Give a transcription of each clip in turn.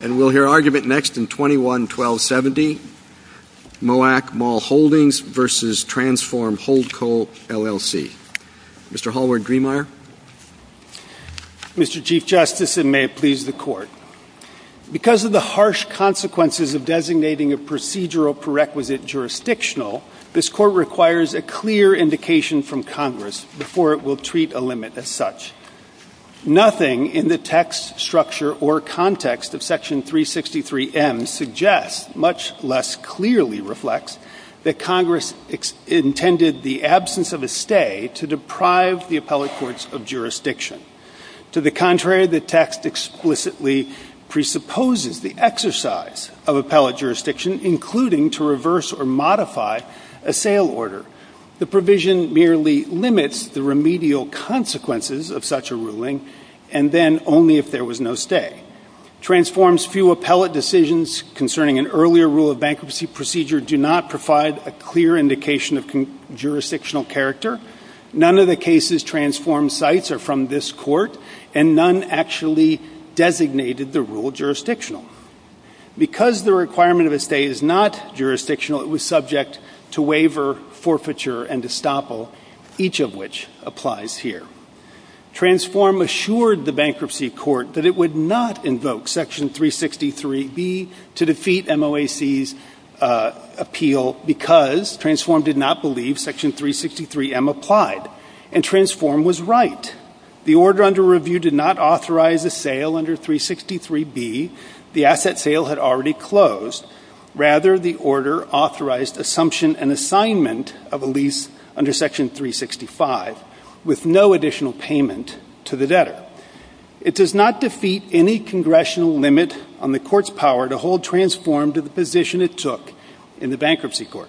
And we'll hear argument next in 21-1270. MOAC Mall Holdings versus Transform Holdco LLC. Mr. Hallward-Griemeyer. Mr. Chief Justice, and may it please the court. Because of the harsh consequences of designating a procedural prerequisite jurisdictional, this court requires a clear indication from Congress before it will treat a limit as such. Nothing in the text, structure, or context of Section 363M suggests, much less clearly reflects, that Congress intended the absence of a stay to deprive the appellate courts of jurisdiction. To the contrary, the text explicitly presupposes the exercise of appellate jurisdiction, including to reverse or modify a sale order. The provision merely limits the remedial consequences of such a ruling, and then only if there was no stay. Transform's few appellate decisions concerning an earlier rule of bankruptcy procedure do not provide a clear indication of jurisdictional character. None of the cases Transform cites are from this court, and none actually designated the rule jurisdictional. Because the requirement of a stay is not jurisdictional, it was subject to forfeiture and estoppel, each of which applies here. Transform assured the bankruptcy court that it would not invoke Section 363B to defeat MOAC's appeal because Transform did not believe Section 363M applied. And Transform was right. The order under review did not authorize a sale under 363B. The asset sale had already closed. Rather, the order authorized assumption and assignment of a lease under Section 365 with no additional payment to the debtor. It does not defeat any congressional limit on the court's power to hold Transform to the position it took in the bankruptcy court.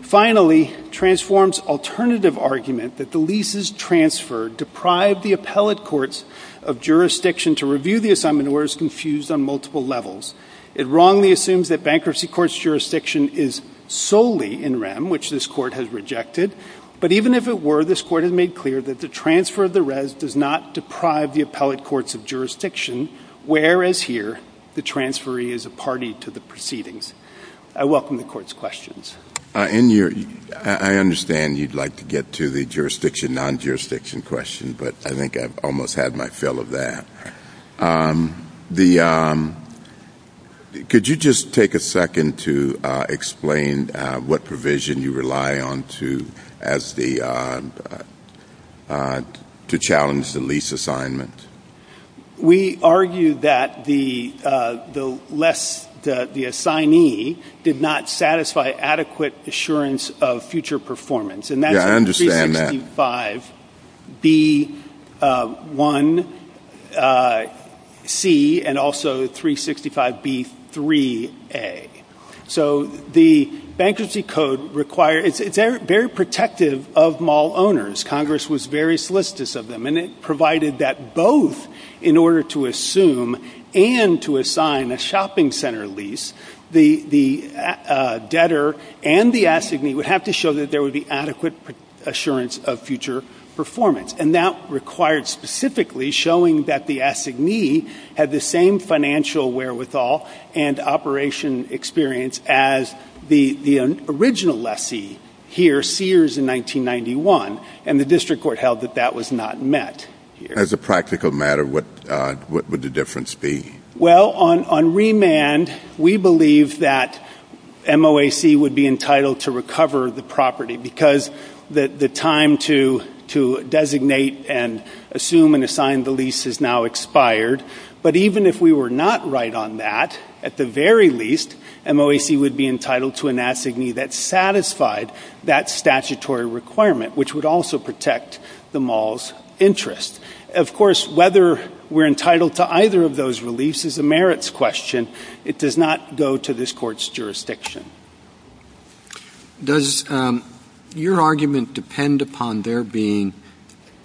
Finally, Transform's alternative argument that the leases transferred deprived the appellate courts of jurisdiction to review the assignment orders confused on multiple levels. It wrongly assumes that bankruptcy court's jurisdiction is solely in REM, which this court has rejected. But even if it were, this court has made clear that the transfer of the RES does not deprive the appellate courts of jurisdiction, whereas here the transferee is a party to the proceedings. I welcome the court's questions. And I understand you'd like to get to the jurisdiction non-jurisdiction question, but I think I've almost had my fill of that. Could you just take a second to explain what provision you rely on to challenge the lease assignment? We argue that the less the assignee did not satisfy adequate assurance of future performance. And that's 365B1C and also 365B3A. So the bankruptcy code requires it's very protective of mall owners. Congress was very solicitous of them, and it provided that both in order to assume and to assign a shopping center lease, the debtor and the assignee would have to show that there would be adequate assurance of future performance. And that required specifically showing that the assignee had the same financial wherewithal and operation experience as the original lessee here, Sears, in 1991. And the district court held that that was not met. As a practical matter, what would the difference be? Well, on remand, we believe that MOAC would be entitled to recover the property because the time to designate and assume and assign the lease is now expired. But even if we were not right on that, at the very least, MOAC would be entitled to an assignee that satisfied that statutory requirement, which would also protect the mall's interest. Of course, whether we're entitled to either of those releases is a merits question. It does not go to this court's jurisdiction. Does your argument depend upon there being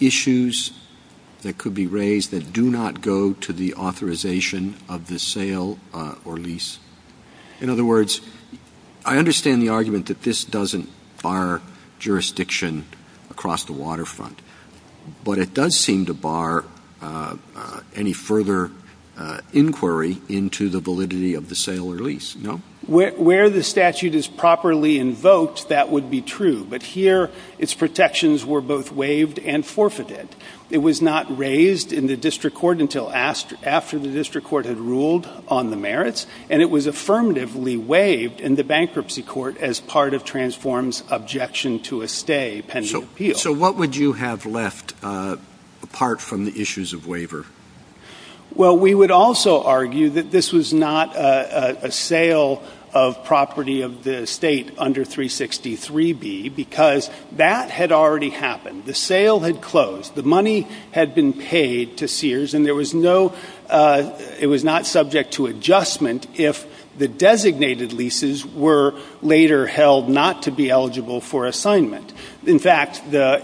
issues that could be raised that do not go to the authorization of the sale or lease? In other words, I understand the argument that this doesn't bar jurisdiction across the district court, but it doesn't bar any further inquiry into the validity of the sale or lease. No, where the statute is properly invoked, that would be true. But here its protections were both waived and forfeited. It was not raised in the district court until after the district court had ruled on the merits. And it was affirmatively waived in the bankruptcy court as part of Transform's objection to a stay pending appeal. So what would you have left apart from the issues of waiver? Well, we would also argue that this was not a sale of property of the state under 363B because that had already happened. The sale had closed. The money had been paid to Sears and there was no it was not subject to adjustment if the designated leases were later held not to be eligible for assignment. In fact, the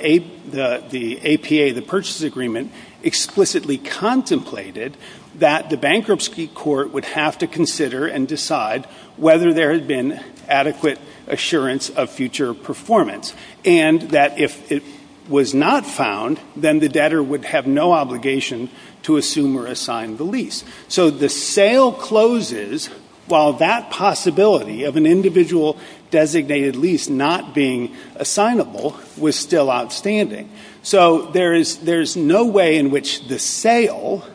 APA, the purchase agreement, explicitly contemplated that the bankruptcy court would have to consider and decide whether there has been adequate assurance of future performance and that if it was not found, then the debtor would have no obligation to assume or assign the lease. So the sale closes while that possibility of an individual designated lease not being assignable was still outstanding. So there is there's no way in which the sale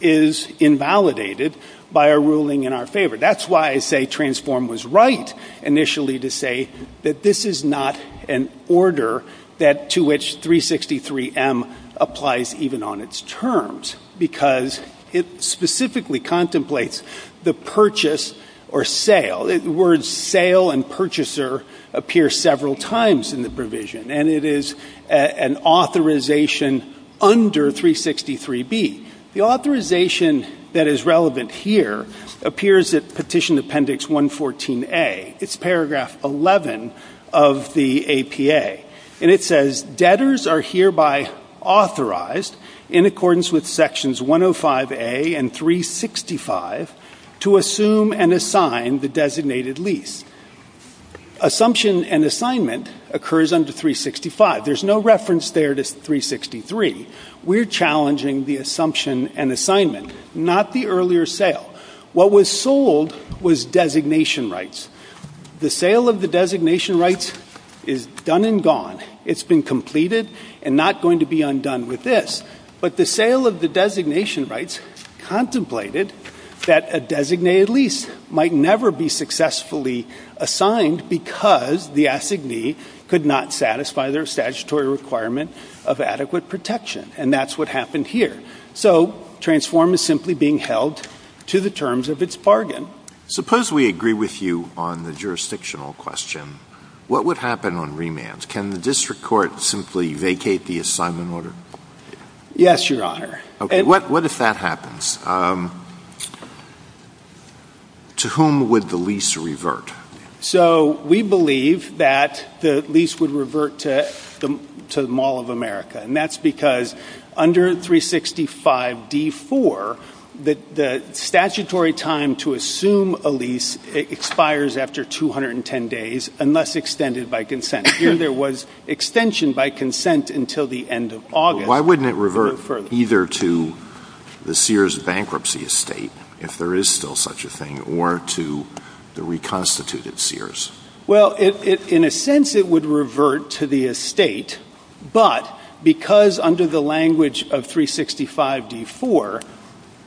is invalidated by a ruling in our favor. That's why I say Transform was right initially to say that this is not an order that to which 363M applies even on its terms because it specifically contemplates the purchase or sale, the words sale and purchaser appear several times in the provision. And it is an authorization under 363B. The authorization that is relevant here appears at Petition Appendix 114A. It's paragraph 11 of the APA. And it says debtors are hereby authorized in accordance with Sections 105A and 365 to assume and assign the designated lease. Assumption and assignment occurs under 365. There's no reference there to 363. We're challenging the assumption and assignment, not the earlier sale. What was sold was designation rights. The sale of the designation rights is done and gone. It's been completed and not going to be undone with this. But the sale of the designation rights contemplated that a designated lease might never be successfully assigned because the assignee could not satisfy their statutory requirement of adequate protection, and that's what happened here. So Transform is simply being held to the terms of its bargain. Suppose we agree with you on the jurisdictional question. What would happen on remands? Can the district court simply vacate the assignment order? Yes, Your Honor. Okay. What if that happens? To whom would the lease revert? So we believe that the lease would revert to the Mall of America. And that's because under 365D4, the statutory time to assume a lease expires after 210 days unless extended by consent. Here there was extension by consent until the end of August. Why wouldn't it revert either to the Sears bankruptcy estate if there is still such a thing or to the reconstituted Sears? Well, in a sense it would revert to the estate, but because under the language of 365D4,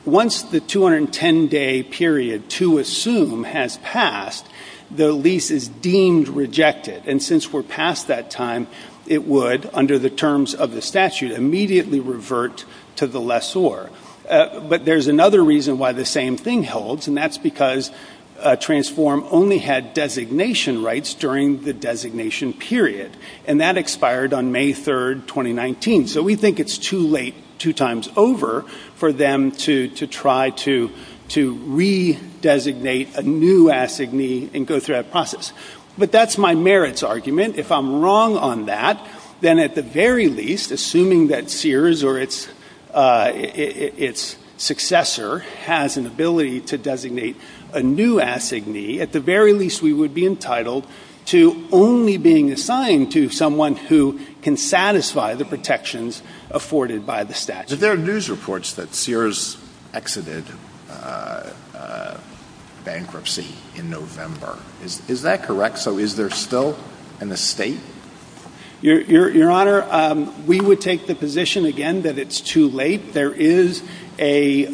once the 210-day period to assume has passed, the lease is deemed rejected. And since we're past that time, it would, under the terms of the statute, immediately revert to the lessor. But there's another reason why the same thing holds, and that's because Transform only had designation rights during the designation period. And that expired on May 3rd, 2019. So we think it's too late two times over for them to try to redesignate a new assignee and go through that process. But that's my merits argument. If I'm wrong on that, then at the very least, assuming that Sears or its successor has an ability to designate a new assignee, at the very least we would be entitled to only being assigned to someone who can satisfy the protections afforded by the statute. So there are news reports that Sears exited bankruptcy in November. Is that correct? So is there still an estate? Your Honor, we would take the position, again, that it's too late. There is a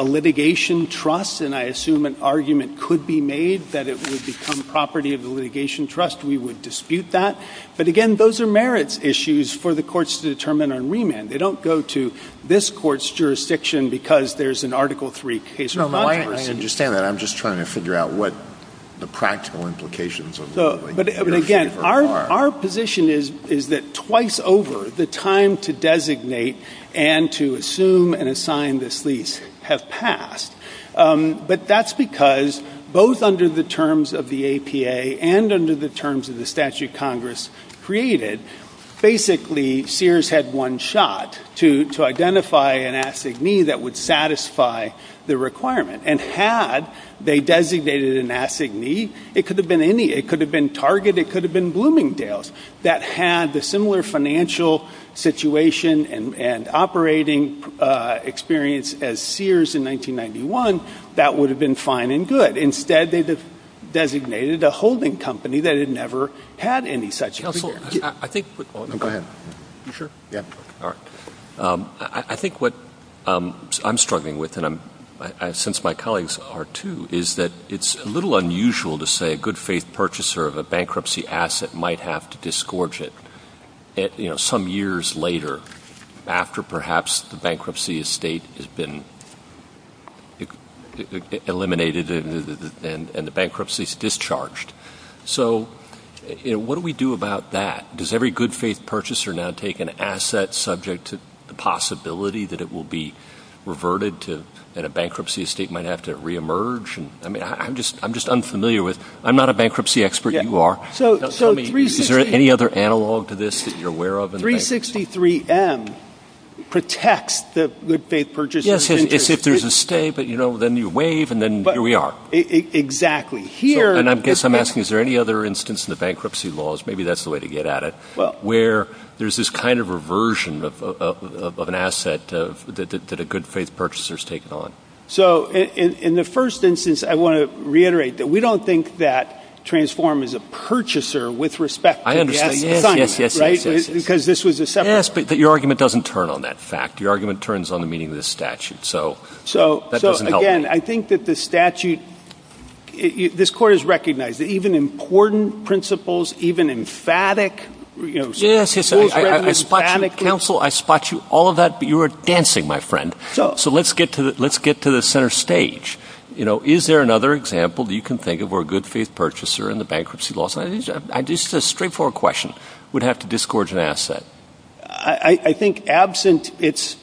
litigation trust, and I assume an argument could be made that it would become property of the litigation trust. We would dispute that. But again, those are merits issues for the courts to determine on remand. They don't go to this court's jurisdiction because there's an Article III case. No, no, I understand that. I'm just trying to figure out what the practical implications are. But again, our position is that twice over, the time to designate and to assume and assign this lease have passed. But that's because both under the terms of the APA and under the terms of the statute Congress created, basically, Sears had one shot to identify an assignee that would satisfy the requirement. And had they designated an assignee, it could have been any. It could have been Target. It could have been Bloomingdale's that had the similar financial situation and operating experience as Sears in 1991, that would have been fine and good. Instead, they designated a holding company that had never had any such experience. I think what I'm struggling with, and since my colleagues are too, is that it's a little unusual to say a good faith purchaser of a bankruptcy asset might have to disgorge it, you know, some years later after perhaps the bankruptcy estate has been eliminated and the bankruptcy is discharged. So, you know, what do we do about that? Does every good faith purchaser now take an asset subject to the possibility that it will be reverted to and a bankruptcy estate might have to reemerge? And I mean, I'm just unfamiliar with, I'm not a bankruptcy expert, you are. So, is there any other analog to this that you're aware of? 363M protects the good faith purchasers. Yes, and it's if there's a stay, but you know, then you waive and then here we are. Exactly. And I guess I'm asking, is there any other instance in the bankruptcy laws, maybe that's the way to get at it, where there's this kind of reversion of an asset that a good faith purchaser is taking on? So, in the first instance, I want to reiterate that we don't think that Transform is a purchaser with respect to the asset. I understand. Yes, yes, yes, yes. Because this was the second. Yes, but your argument doesn't turn on that fact. Your argument turns on the meaning of the statute. So, that doesn't help. So, again, I think that the statute, this court has recognized that even important principles, even emphatic, you know, schools have an emphatic. Counsel, I spot you all of that, but you are dancing, my friend. So, let's get to the center stage. You know, is there another example that you can think of where a good faith purchaser in the bankruptcy laws, I think it's just a straightforward question. Would have to disgorge an asset. I think absent its,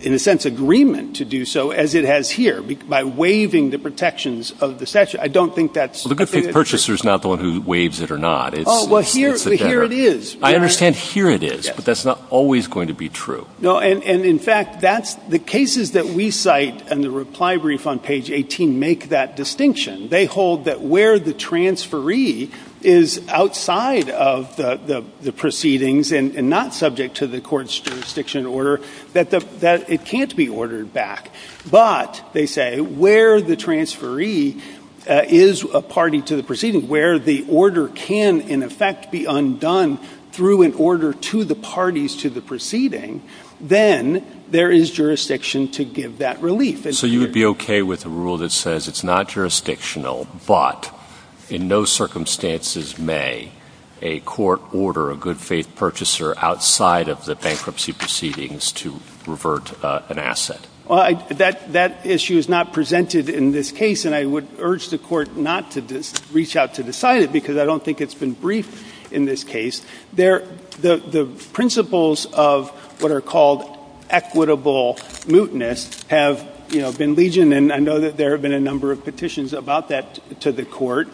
in a sense, agreement to do so as it has here by waiving the protections of the statute. I don't think that's. The good faith purchaser is not the one who waives it or not. Oh, well, here it is. I understand here it is, but that's not always going to be true. No, and in fact, that's the cases that we cite and the reply brief on page 18 make that distinction. They hold that where the transferee is outside of the proceedings and not subject to the court's jurisdiction order, that it can't be ordered back. But they say, where the transferee is a party to the proceeding, where the order can, in effect, be undone through an order to the parties to the proceeding, then there is jurisdiction to give that relief. So you would be okay with a rule that says it's not jurisdictional, but in no circumstances may a court order a good faith purchaser outside of the bankruptcy proceedings to revert an asset. That issue is not presented in this case, and I would urge the court not to reach out to decide it because I don't think it's been briefed in this case. The principles of what are called equitable mootness have, you know, been legioned, and I know that there have been a number of petitions about that to the court.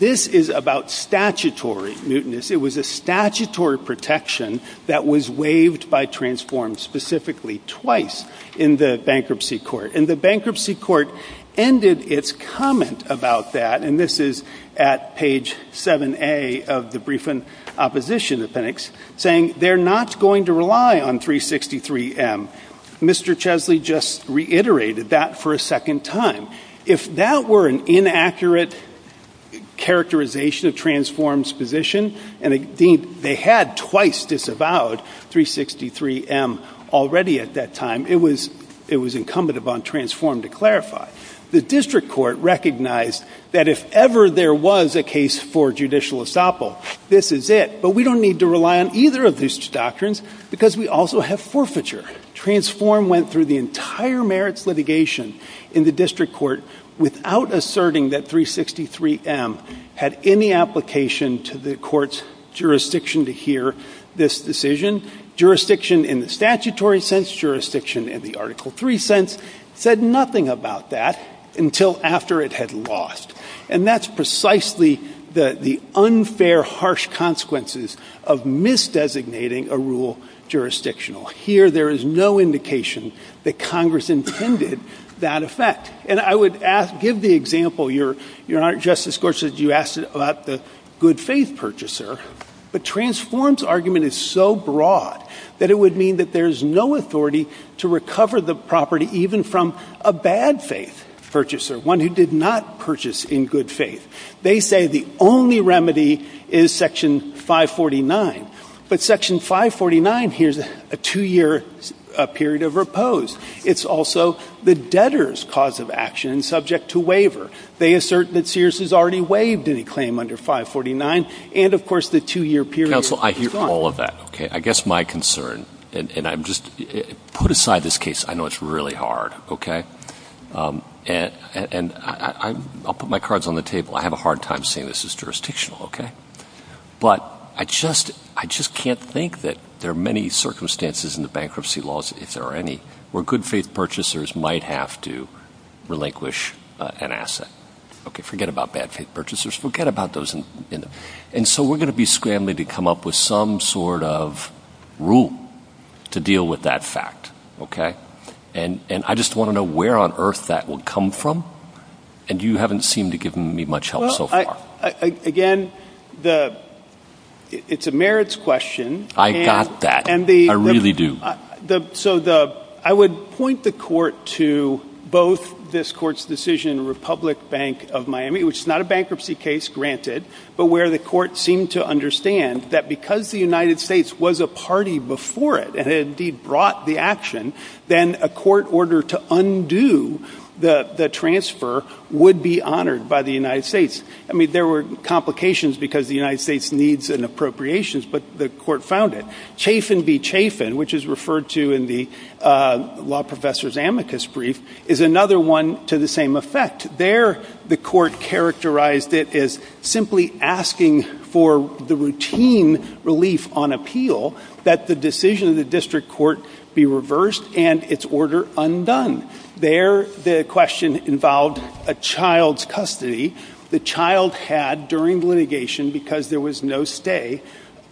This is about statutory mootness. It was a statutory protection that was waived by transform specifically twice in the bankruptcy court. And the bankruptcy court ended its comment about that, and this is at page 7A of the briefing opposition appendix, saying they're not going to rely on 363M. Mr. Chesley just reiterated that for a second time. If that were an inaccurate characterization of transform's position, and they had twice disavowed 363M already at that time, it was incumbent upon transform to clarify. The district court recognized that if ever there was a case for judicial estoppel, this is it. But we don't need to rely on either of these doctrines because we also have forfeiture. Transform went through the entire merits litigation in the district court without asserting that 363M had any application to the court's jurisdiction to hear this decision. Jurisdiction in the statutory sense, jurisdiction in the Article III sense, said nothing about that until after it had lost. And that's precisely the unfair, harsh consequences of misdesignating a rule jurisdictional. Here, there is no indication that Congress intended that effect. And I would ask, give the example, Your Honor, Justice Gorsuch, you asked about the good faith purchaser. But transform's argument is so broad that it would mean that there's no authority to recover the property even from a bad faith purchaser, one who did not purchase in good faith. They say the only remedy is Section 549. But Section 549, here's a two-year period of repose. It's also the debtor's cause of action and subject to waiver. They assert that Sears has already waived any claim under 549. And, of course, the two-year period is gone. Counsel, I hear all of that, okay? I guess my concern, and I'm just, put aside this case. I know it's really hard, okay? And I'll put my cards on the table. I have a hard time saying this is jurisdictional, okay? But I just can't think that there are many circumstances in the bankruptcy laws, if there are any, where good faith purchasers might have to relinquish an asset. Okay, forget about bad faith purchasers. Forget about those. And so we're going to be scrambling to come up with some sort of rule to deal with that fact, okay? And I just want to know where on earth that would come from. And you haven't seemed to give me much help so far. Again, it's a merits question. I got that. I really do. So I would point the court to both this court's decision, the Republic Bank of Miami, which is not a bankruptcy case, granted, but where the court seemed to understand that because the United States was a party before it, and it indeed brought the action, then a court order to undo the transfer would be honored by the United States. I mean, there were complications because the United States needs and appropriations, but the court found it. Chafin v. Chafin, which is referred to in the law professor's amicus brief, is another one to the same effect. There, the court characterized it as simply asking for the routine relief on appeal that the decision of the district court be reversed and its order undone. There, the question involved a child's custody. The child had, during litigation, because there was no stay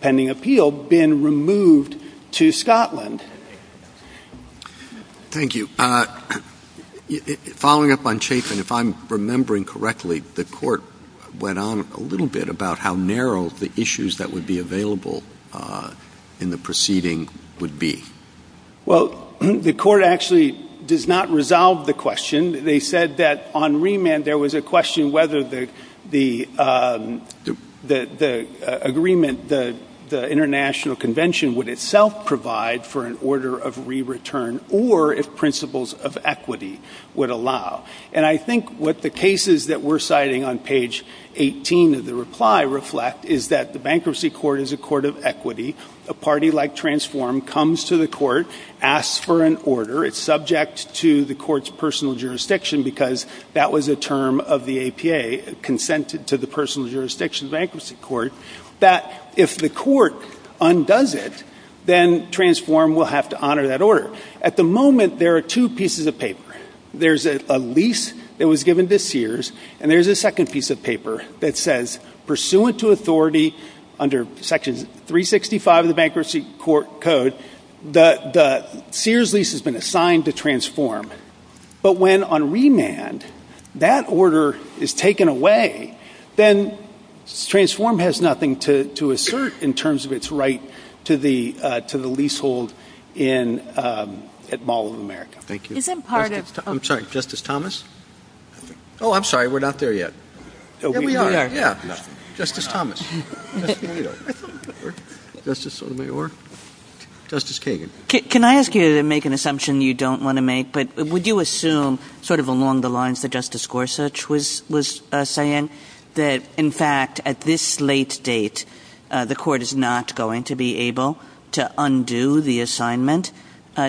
pending appeal, been removed to Scotland. Thank you. Following up on Chafin, if I'm remembering correctly, the court went on a little bit about how narrow the issues that would be available in the proceeding would be. Well, the court actually does not resolve the question. They said that on remand, there was a question whether the agreement, the international convention would itself provide for an order of re-return or if principles of equity would allow. And I think what the cases that we're citing on page 18 of the reply reflect is that the bankruptcy court is a court of equity. A party like Transform comes to the court, asks for an order. It's subject to the court's personal jurisdiction because that was a term of the APA, Consented to the Personal Jurisdiction Bankruptcy Court, that if the court undoes it, then Transform will have to honor that order. At the moment, there are two pieces of paper. There's a lease that was given to Sears and there's a second piece of paper that says, pursuant to authority under Section 365 of the Bankruptcy Court Code, the Sears lease has been assigned to Transform. But when on remand, that order is taken away, then Transform has nothing to assert in terms of its right to the leasehold at Mall of America. Thank you. Is that part of? I'm sorry, Justice Thomas? Oh, I'm sorry, we're not there yet. Yeah, we are, yeah. Justice Thomas. Justice O'Neill. Justice Kagan. Can I ask you to make an assumption you don't want to make, but would you assume sort of along the lines that Justice Gorsuch was saying, that in fact, at this late date, the court is not going to be able to undo the assignment?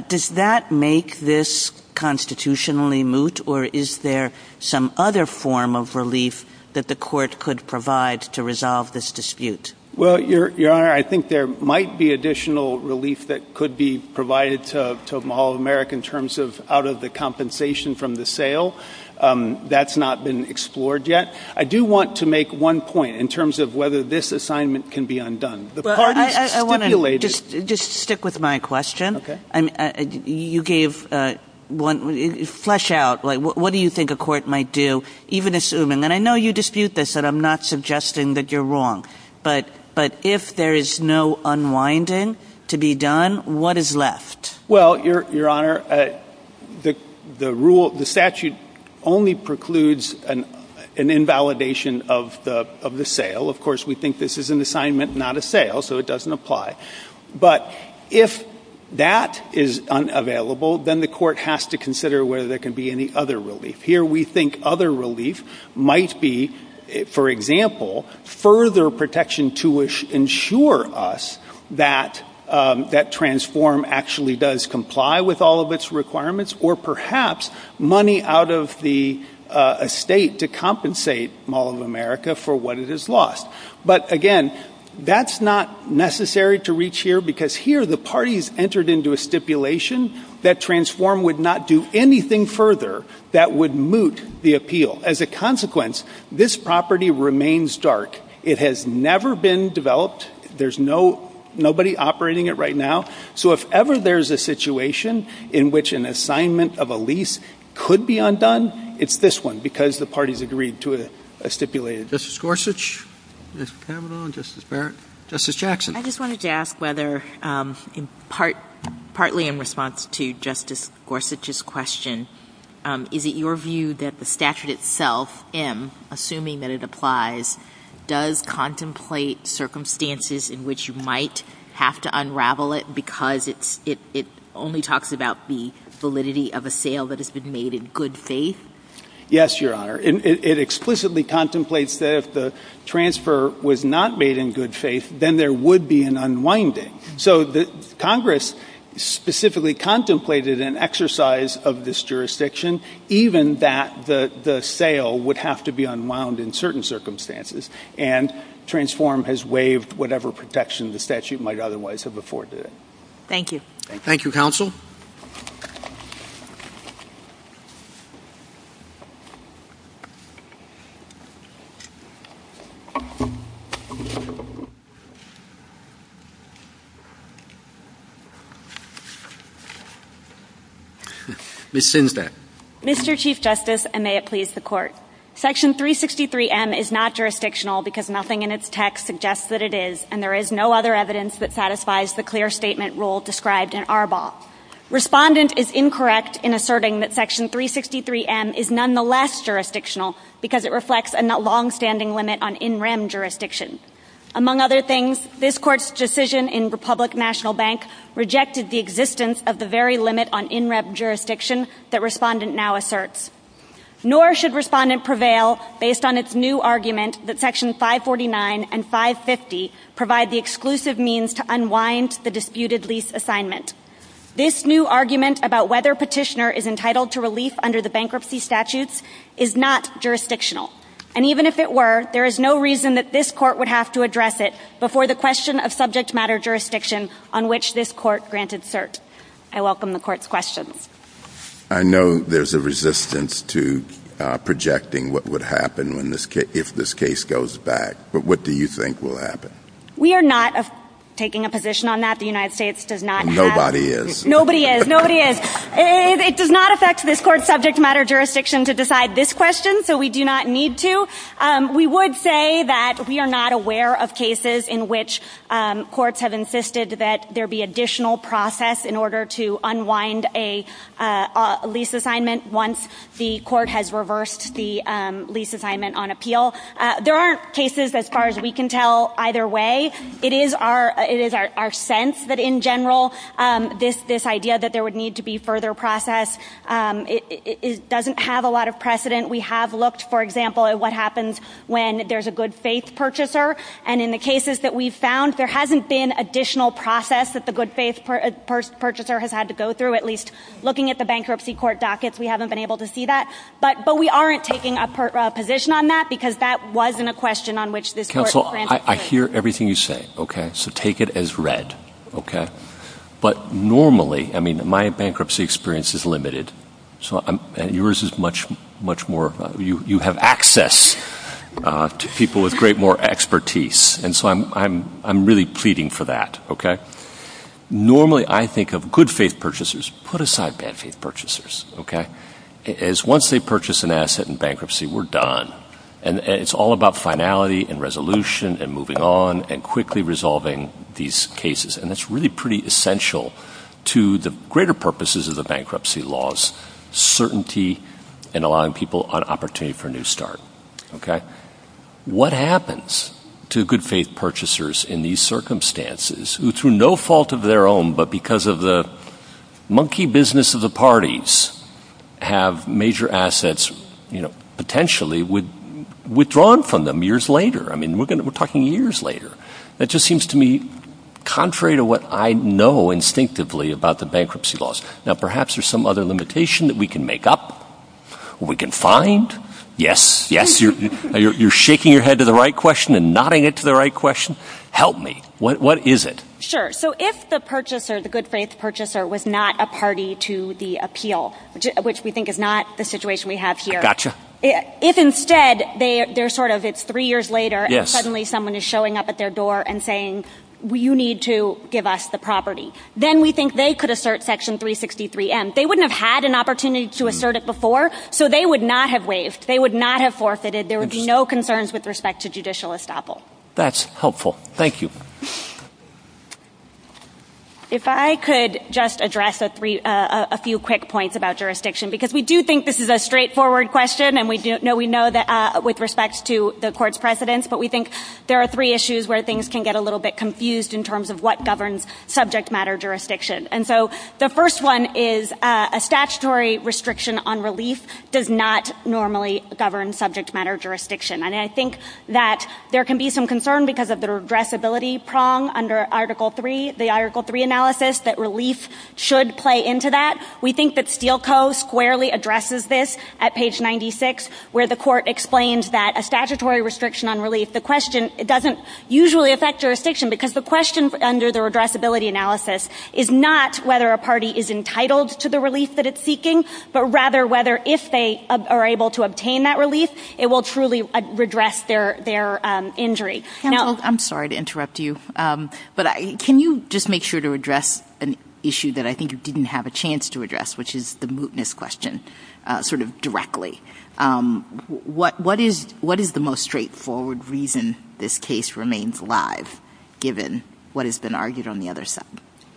Does that make this constitutionally moot or is there some other form of relief that the court could provide to resolve this dispute? Well, Your Honor, I think there might be additional relief that could be provided to Mall of America in terms of out of the compensation from the sale. That's not been explored yet. I do want to make one point in terms of whether this assignment can be undone. The parties stipulated. I want to just stick with my question. Okay. And you gave one flesh out, like what do you think a court might do, even assuming, and I know you dispute this and I'm not suggesting that you're wrong, but if there is no unwinding to be done, what is left? Well, Your Honor, the rule, the statute only precludes an invalidation of the sale. Of course, we think this is an assignment, not a sale, so it doesn't apply. But if that is unavailable, then the court has to consider whether there can be any other relief. Here, we think other relief might be, for example, further protection to ensure us that Transform actually does comply with all of its requirements or perhaps money out of the estate to compensate Mall of America for what it has lost. But again, that's not necessary to reach here because here the parties entered into a stipulation that Transform would not do anything further that would moot the appeal. As a consequence, this property remains dark. It has never been developed. There's nobody operating it right now. So if ever there's a situation in which an assignment of a lease could be undone, it's this one because the parties agreed to it, stipulated. Justice Gorsuch, Justice Kavanaugh, Justice Barrett, Justice Jackson. I just wanted to ask whether, partly in response to Justice Gorsuch's question, is it your view that the statute itself, M, assuming that it applies, does contemplate circumstances in which you might have to unravel it because it only talks about the validity of a sale that has been made in good faith? Yes, Your Honor. It explicitly contemplates that if the transfer was not made in good faith, then there would be an unwinding. So Congress specifically contemplated an exercise of this jurisdiction even that the sale would have to be unwound in certain circumstances. And Transform has waived whatever protection the statute might otherwise have afforded it. Thank you. Thank you, counsel. Ms. Sinsdaer. Mr. Chief Justice, and may it please the Court, Section 363M is not jurisdictional because nothing in its text suggests that it is, and there is no other evidence that satisfies the clear statement rule described in Arbol. Respondent is incorrect in asserting that Section 363M is nonetheless jurisdictional because it reflects a long-standing limit on in-rem jurisdiction. Among other things, this Court's decision in Republic National Bank rejected the existence of the very limit on in-rem jurisdiction that Respondent now asserts. Nor should Respondent prevail based on its new argument that Section 549 and 550 provide the exclusive means to unwind the disputed lease assignment. This new argument about whether Petitioner is entitled to relief under the bankruptcy statutes is not jurisdictional. And even if it were, there is no reason that this Court would have to address it before the question of subject matter jurisdiction on which this Court granted cert. I welcome the Court's question. I know there's a resistance to projecting what would happen if this case goes back, but what do you think will happen? We are not taking a position on that. The United States does not have. Nobody is. Nobody is. Nobody is. It does not affect this Court's subject matter jurisdiction to decide this question, so we do not need to. We would say that we are not aware of cases in which courts have insisted that there be additional process in order to unwind a lease assignment once the Court has reversed the lease assignment on appeal. There aren't cases as far as we can tell either way. It is our sense that in general, this idea that there would need to be further process, it doesn't have a lot of precedent. We have looked, for example, at what happens when there's a good-faith purchaser, and in the cases that we've found, there hasn't been additional process that the good-faith purchaser has had to go through, at least looking at the bankruptcy court dockets. We haven't been able to see that. But we aren't taking a position on that because that wasn't a question on which this Court granted cert. I hear everything you say, okay? So take it as read, okay? But normally, I mean, my bankruptcy experience is limited, so yours is much more, you have access to people with great more expertise, and so I'm really pleading for that, okay? Normally, I think of good-faith purchasers, put aside bad-faith purchasers, okay? Because once they purchase an asset in bankruptcy, we're done, and it's all about finality and resolution and moving on and quickly resolving these cases. And that's really pretty essential to the greater purposes of the bankruptcy laws, certainty and allowing people an opportunity for a new start, okay? What happens to good-faith purchasers in these circumstances who, through no fault of their own but because of the monkey business of the parties, have major assets, you know, I mean, we're talking years later. It just seems to me, contrary to what I know instinctively about the bankruptcy laws, now perhaps there's some other limitation that we can make up, we can find. Yes, yes, you're shaking your head to the right question and nodding it to the right question. Help me. What is it? Sure. So if the purchaser, the good-faith purchaser, was not a party to the appeal, which we think is not the situation we have here. Gotcha. If instead they're sort of, it's three years later and suddenly someone is showing up at their door and saying, you need to give us the property, then we think they could assert Section 363N. They wouldn't have had an opportunity to assert it before, so they would not have waived. They would not have forfeited. There would be no concerns with respect to judicial estoppel. That's helpful. Thank you. If I could just address a few quick points about jurisdiction, because we do think this is a straightforward question and we know that with respect to the court's precedents, but we think there are three issues where things can get a little bit confused in terms of what governs subject matter jurisdiction. And so the first one is a statutory restriction on release does not normally govern subject matter jurisdiction. And I think that there can be some concern because of the regressibility prong under Article III, the Article III analysis, that release should play into that. We think that Steele Co. squarely addresses this at page 96, where the court explains that a statutory restriction on release, the question, it doesn't usually affect jurisdiction because the question under the regressibility analysis is not whether a party is entitled to the release that it's seeking, but rather whether if they are able to obtain that release, it will truly redress their injury. I'm sorry to interrupt you, but can you just make sure to address an issue that I think you didn't have a chance to address, which is the mootness question, sort of directly. What is the most straightforward reason this case remains alive, given what has been argued on the other side?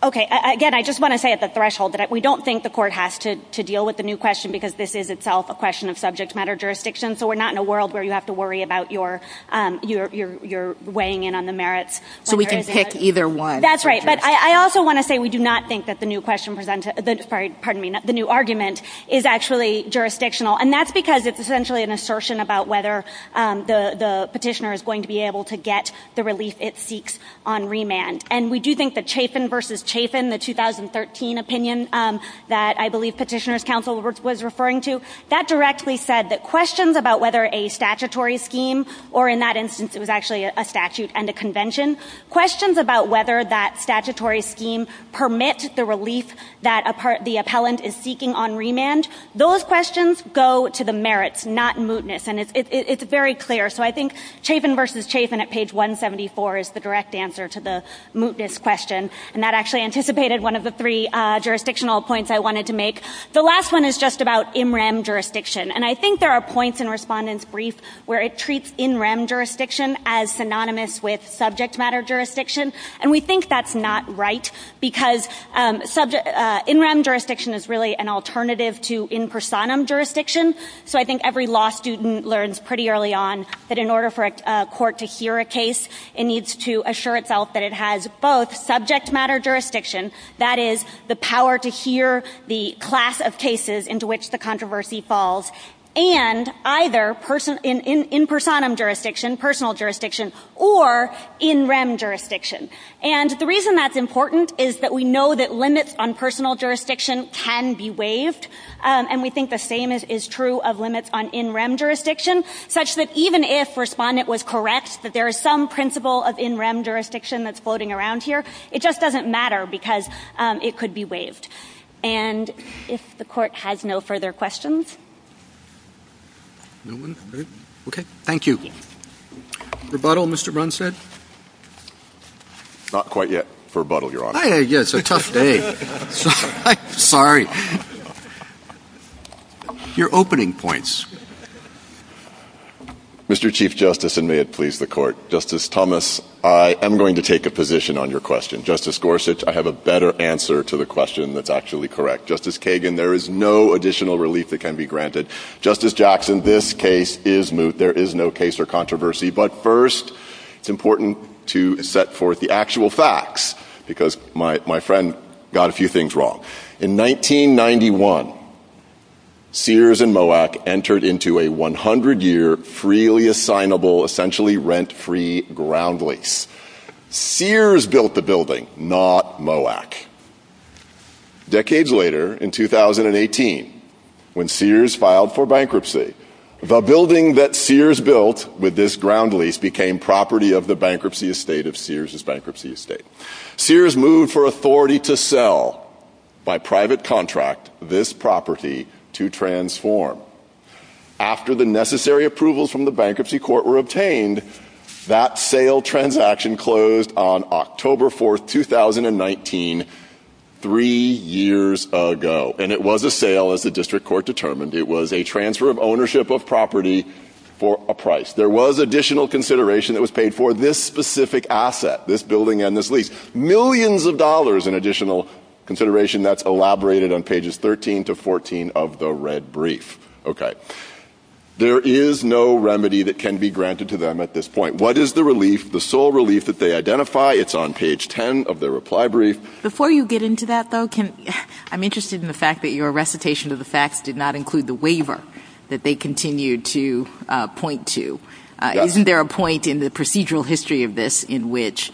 Okay. Again, I just want to say at the threshold that we don't think the court has to deal with the new question because this is itself a question of subject matter jurisdiction. So we're not in a world where you have to worry about your weighing in on the merits. So we can pick either one. That's right. But I also want to say we do not think that the new argument is actually jurisdictional. And that's because it's essentially an assertion about whether the petitioner is going to be able to get the release it seeks on remand. And we do think the Chafin versus Chafin, the 2013 opinion that I believe Petitioner's Counsel was referring to, that directly said that questions about whether a statutory scheme, or in that instance, it was actually a statute and a convention. Questions about whether that statutory scheme permits the release that the appellant is seeking on remand. Those questions go to the merits, not mootness. And it's very clear. So I think Chafin versus Chafin at page 174 is the direct answer to the mootness question. And that actually anticipated one of the three jurisdictional points I wanted to make. The last one is just about in rem jurisdiction. And I think there are points in Respondent's Brief where it treats in rem jurisdiction as synonymous with subject matter jurisdiction. And we think that's not right. Because in rem jurisdiction is really an alternative to in personam jurisdiction. So I think every law student learns pretty early on that in order for a court to hear a case, it needs to assure itself that it has both subject matter jurisdiction, that is, the power to hear the class of cases into which the controversy falls. And either in personam jurisdiction, personal jurisdiction, or in rem jurisdiction. And the reason that's important is that we know that limits on personal jurisdiction can be waived. And we think the same is true of limits on in rem jurisdiction. Such that even if Respondent was correct that there is some principle of in rem jurisdiction that's floating around here, it just doesn't matter because it could be waived. And if the court has no further questions. No one? Okay, thank you. Rebuttal, Mr. Brunstad? Not quite yet. Rebuttal, Your Honor. I guess, it's a tough day. Sorry. Your opening points. Mr. Chief Justice, and may it please the court. Justice Thomas, I am going to take a position on your question. Justice Gorsuch, I have a better answer to the question that's actually correct. Justice Kagan, there is no additional relief that can be granted. Justice Jackson, this case is, there is no case or controversy. But first, it's important to set forth the actual facts. Because my friend got a few things wrong. In 1991, Sears and Moac entered into a 100-year freely assignable, essentially rent-free ground lease. Sears built the building, not Moac. Decades later, in 2018, when Sears filed for bankruptcy, the building that Sears built with this ground lease became property of the bankruptcy estate of Sears' bankruptcy estate. Sears moved for authority to sell, by private contract, this property to transform. After the necessary approvals from the bankruptcy court were obtained, that sale transaction closed on October 4th, 2019, three years ago. And it was a sale, as the district court determined. It was a transfer of ownership of property for a price. There was additional consideration that was paid for this specific asset, this building and this lease. Millions of dollars in additional consideration that's elaborated on pages 13 to 14 of the red brief. Okay. There is no remedy that can be granted to them at this point. What is the relief, the sole relief that they identify? It's on page 10 of their reply brief. Before you get into that, though, I'm interested in the fact that your recitation of the facts did not include the waiver that they continued to point to. Isn't there a point in the procedural history of this in which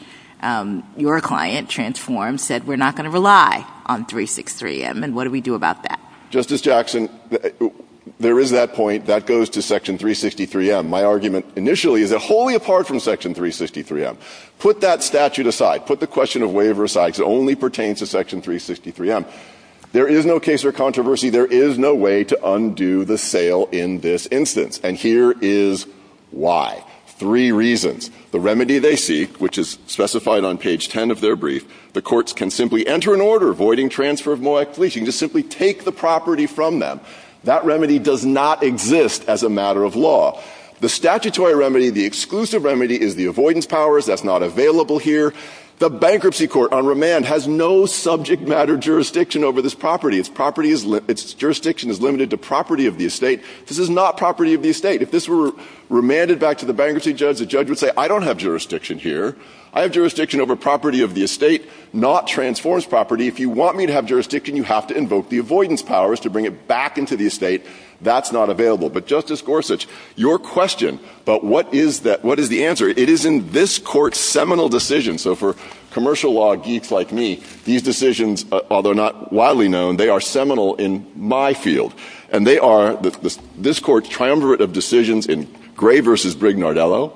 your client transformed, said, we're not going to rely on 363M? And what do we do about that? Justice Jackson, there is that point. That goes to section 363M. My argument initially is that wholly apart from section 363M, put that statute aside, put the question of waiver aside, because it only pertains to section 363M. There is no case for controversy. There is no way to undo the sale in this instance. And here is why. Three reasons. The remedy they seek, which is specified on page 10 of their brief, the courts can simply enter an order avoiding transfer of MOAC leasing to simply take the property from them. That remedy does not exist as a matter of law. The statutory remedy, the exclusive remedy is the avoidance powers. That's not available here. The bankruptcy court on remand has no subject matter jurisdiction over this property. Its jurisdiction is limited to property of the estate. This is not property of the estate. If this were remanded back to the bankruptcy judge, the judge would say I don't have jurisdiction here. I have jurisdiction over property of the estate, not transformed property. If you want me to have jurisdiction, you have to invoke the avoidance powers to bring it back into the estate. That's not available. But Justice Gorsuch, your question, but what is the answer? It is in this court's seminal decision. So for commercial law geeks like me, these decisions, although not widely known, they are seminal in my field. And they are this court's triumvirate of decisions in Gray v. Brignardello,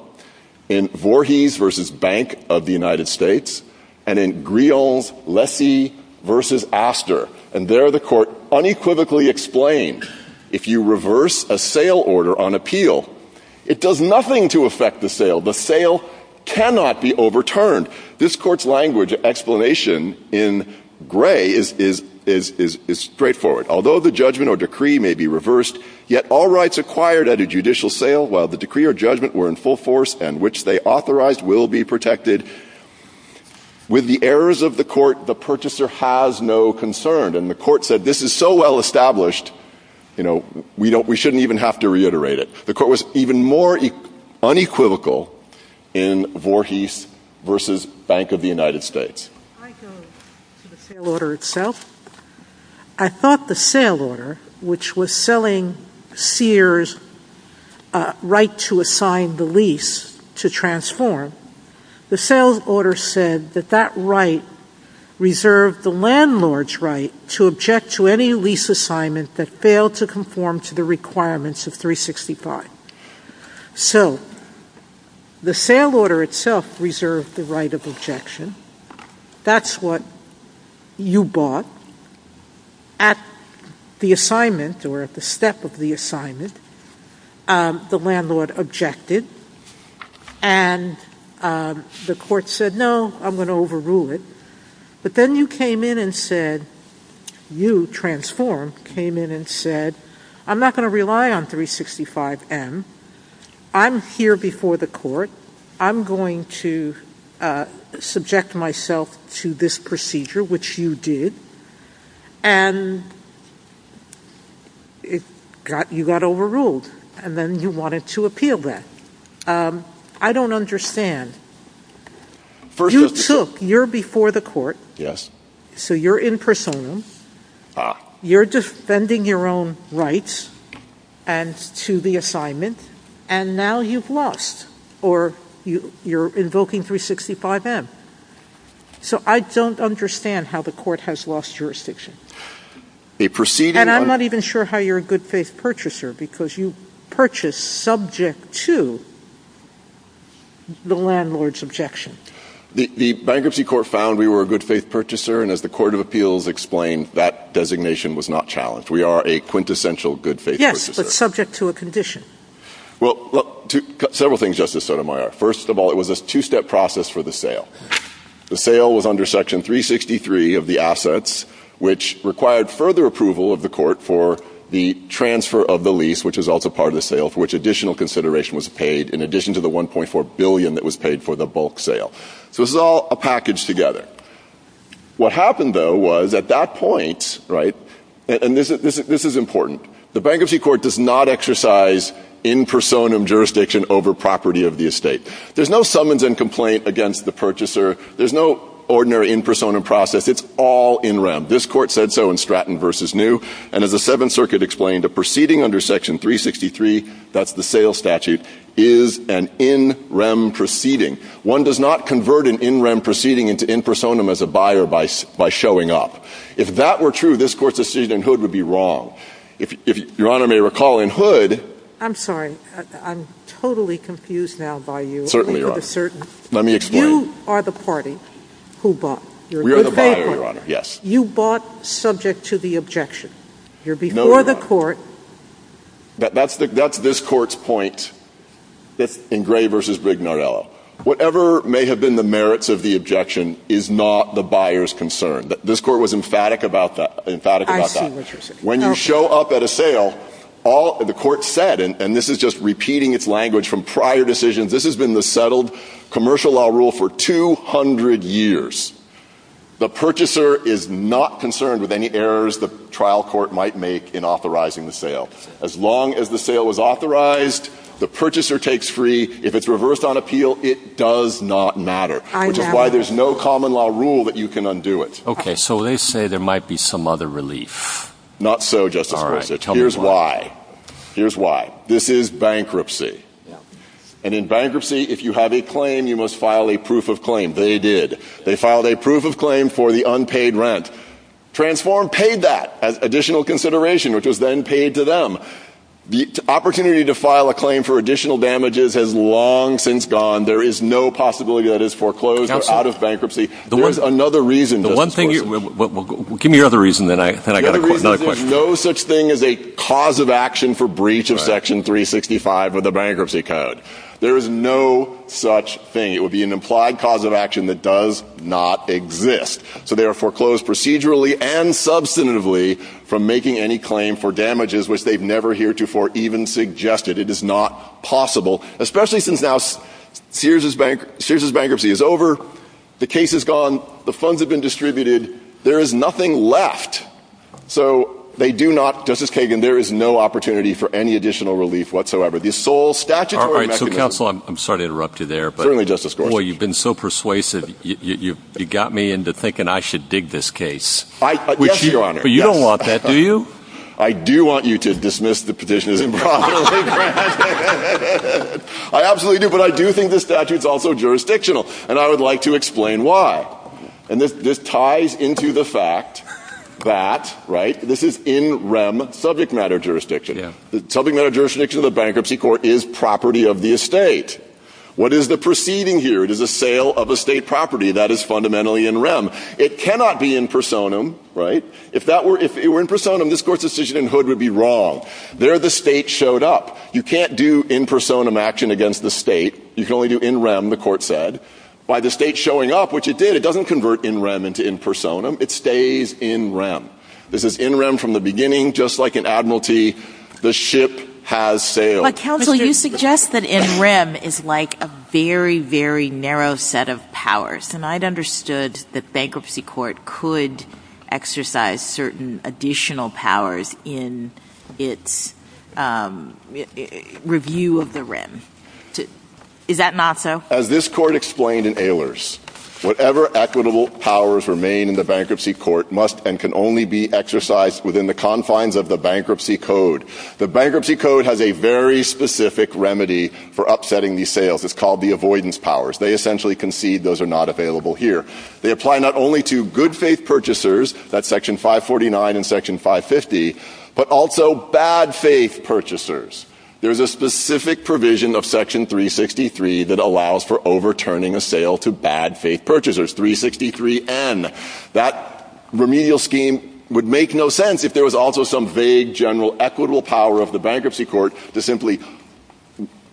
in Voorhees v. Bank of the United States, and in Griot v. Lessie v. Astor. And there the court unequivocally explained, if you reverse a sale order on appeal, it does nothing to affect the sale. The sale cannot be overturned. This court's language explanation in Gray is straightforward. Although the judgment or decree may be reversed, yet all rights acquired at a judicial sale, while the decree or judgment were in full force and which they authorized will be protected. With the errors of the court, the purchaser has no concern. And the court said, this is so well established, you know, we shouldn't even have to reiterate it. The court was even more unequivocal in Voorhees v. Bank of the United States. I go to the sale order itself. I thought the sale order, which was selling Sears' right to assign the lease to transform, the sale order said that that right reserved the landlord's right to object to any lease assignment that failed to conform to the requirements of 365. So the sale order itself reserved the right of objection. That's what you bought. At the assignment or at the step of the assignment, the landlord objected. And the court said, no, I'm going to overrule it. But then you came in and said, you, transform, came in and said, I'm not going to rely on 365M. I'm here before the court. I'm going to subject myself to this procedure, which you did. And you got overruled. And then you wanted to appeal that. I don't understand. You took, you're before the court. So you're in personam. You're defending your own rights and to the assignment. And now you've lost or you're invoking 365M. So I don't understand how the court has lost jurisdiction. And I'm not even sure how you're a good faith purchaser because you purchased subject to the landlord's objection. The bankruptcy court found we were a good faith purchaser. And as the court of appeals explained, that designation was not challenged. We are a quintessential good faith purchaser. Yes, but subject to a condition. Well, several things, Justice Sotomayor. First of all, it was a two-step process for the sale. The sale was under section 363 of the assets, which required further approval of the court for the transfer of the lease, which is also part of the sale, for which additional consideration was paid in addition to the 1.4 billion that was paid for the bulk sale. So this is all a package together. What happened, though, was at that point, right, and this is important. The bankruptcy court does not exercise in personam jurisdiction over property of the estate. There's no summons and complaint against the purchaser. There's no ordinary in personam process. It's all in rem. This court said so in Stratton v. New, and as the Seventh Circuit explained, a proceeding under section 363, that's the sales statute, is an in rem proceeding. One does not convert an in rem proceeding into in personam as a buyer by showing up. If that were true, this court's decisionhood would be wrong. If Your Honor may recall, in Hood. I'm sorry, I'm totally confused now by you. Certainly, Your Honor. Certainly. Let me explain. You are the party who bought. We are the buyer, Your Honor, yes. You bought subject to the objection. You're before the court. That's this court's point in Gray v. Rignonello. Whatever may have been the merits of the objection is not the buyer's concern. This court was emphatic about that. I see what you're saying. When you show up at a sale, the court said, and this is just repeating its language from prior decisions, this has been the settled commercial law rule for 200 years. The purchaser is not concerned with any errors the trial court might make in authorizing the sale. As long as the sale is authorized, the purchaser takes free. If it's reversed on appeal, it does not matter, which is why there's no common law rule that you can undo it. Okay, so they say there might be some other relief. Not so, Justice Gorsuch. Here's why. Here's why. This is bankruptcy. And in bankruptcy, if you have a claim, you must file a proof of claim. They did. They filed a proof of claim for the unpaid rent. Transform paid that as additional consideration, which was then paid to them. The opportunity to file a claim for additional damages has long since gone. There is no possibility that it's foreclosed or out of bankruptcy. There's another reason. The one thing, give me your other reason, then I got another question. There's no such thing as a cause of action for breach of section 365 of the bankruptcy code. There is no such thing. It would be an implied cause of action that does not exist. So they are foreclosed procedurally and substantively from making any claim for damages which they've never heretofore even suggested. It is not possible, especially since now Sears' bankruptcy is over, the case is gone, the funds have been distributed, there is nothing left. So they do not, Justice Kagan, there is no opportunity for any additional relief whatsoever. The sole statute or mechanism. So counsel, I'm sorry to interrupt you there. Certainly, Justice Gorsuch. Boy, you've been so persuasive, you got me into thinking I should dig this case. I, yes, your honor. But you don't want that, do you? I do want you to dismiss the petition of the bankruptcy. I absolutely do, but I do think the statute's also jurisdictional, and I would like to explain why. And this ties into the fact that, right, this is in rem subject matter jurisdiction. Subject matter jurisdiction of the bankruptcy court is property of the estate. What is the proceeding here? It is a sale of estate property. That is fundamentally in rem. It cannot be in personam, right? If that were, if it were in personam, this court's decision in hood would be wrong. There the state showed up. You can't do in personam action against the state. You can only do in rem, the court said. By the state showing up, which it did, it doesn't convert in rem into in personam. It stays in rem. This is in rem from the beginning, just like an admiralty, the ship has sailed. Counsel, you suggest that in rem is like a very, very narrow set of powers. And I'd understood the bankruptcy court could exercise certain additional powers in its review of the rem. Is that not so? As this court explained in Ehlers, whatever equitable powers remain in the bankruptcy court must and can only be exercised within the confines of the bankruptcy code. The bankruptcy code has a very specific remedy for upsetting these sales. It's called the avoidance powers. They essentially concede those are not available here. They apply not only to good faith purchasers, that's section 549 and section 550, but also bad faith purchasers. There's a specific provision of section 363 that allows for overturning a sale to bad faith purchasers, 363N. That remedial scheme would make no sense if there was also some vague general equitable power of the bankruptcy court to simply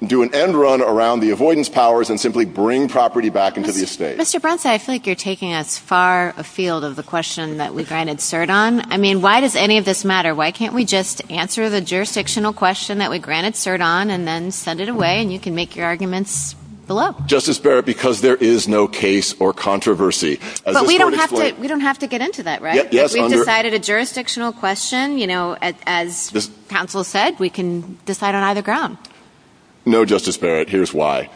do an end run around the avoidance powers and simply bring property back into the estate. Mr. Brunson, I feel like you're taking us far afield of the question that we've got to insert on. I mean, why does any of this matter? Why can't we just answer the jurisdictional question that we granted cert on and then send it away and you can make your arguments below? Justice Barrett, because there is no case or controversy. But we don't have to get into that, right? Yes. If we decided a jurisdictional question, you know, as counsel said, we can decide on either ground. No, Justice Barrett, here's why.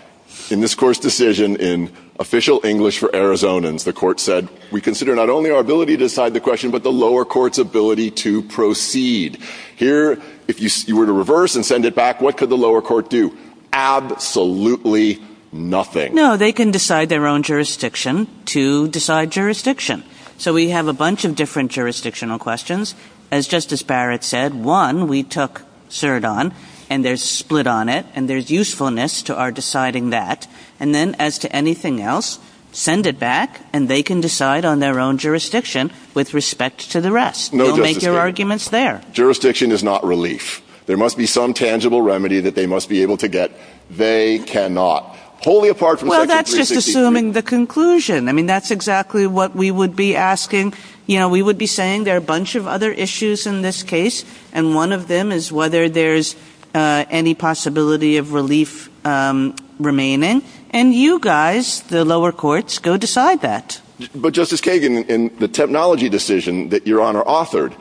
In this court's decision in official English for Arizonans, the court said we consider not only our ability to decide the question, but the lower court's ability to proceed. Here, if you were to reverse and send it back, what could the lower court do? Absolutely nothing. No, they can decide their own jurisdiction to decide jurisdiction. So we have a bunch of different jurisdictional questions. As Justice Barrett said, one, we took cert on and there's split on it and there's usefulness to our deciding that. And then as to anything else, send it back and they can decide on their own jurisdiction with respect to the rest. No, Justice Barrett. Make your arguments there. Jurisdiction is not relief. There must be some tangible remedy that they must be able to get. They cannot. Wholly apart from section 363. Well, that's just assuming the conclusion. I mean, that's exactly what we would be asking. You know, we would be saying there are a bunch of other issues in this case. And one of them is whether there's any possibility of relief remaining. And you guys, the lower courts, go decide that. But Justice Kagan, in the technology decision that Your Honor authored,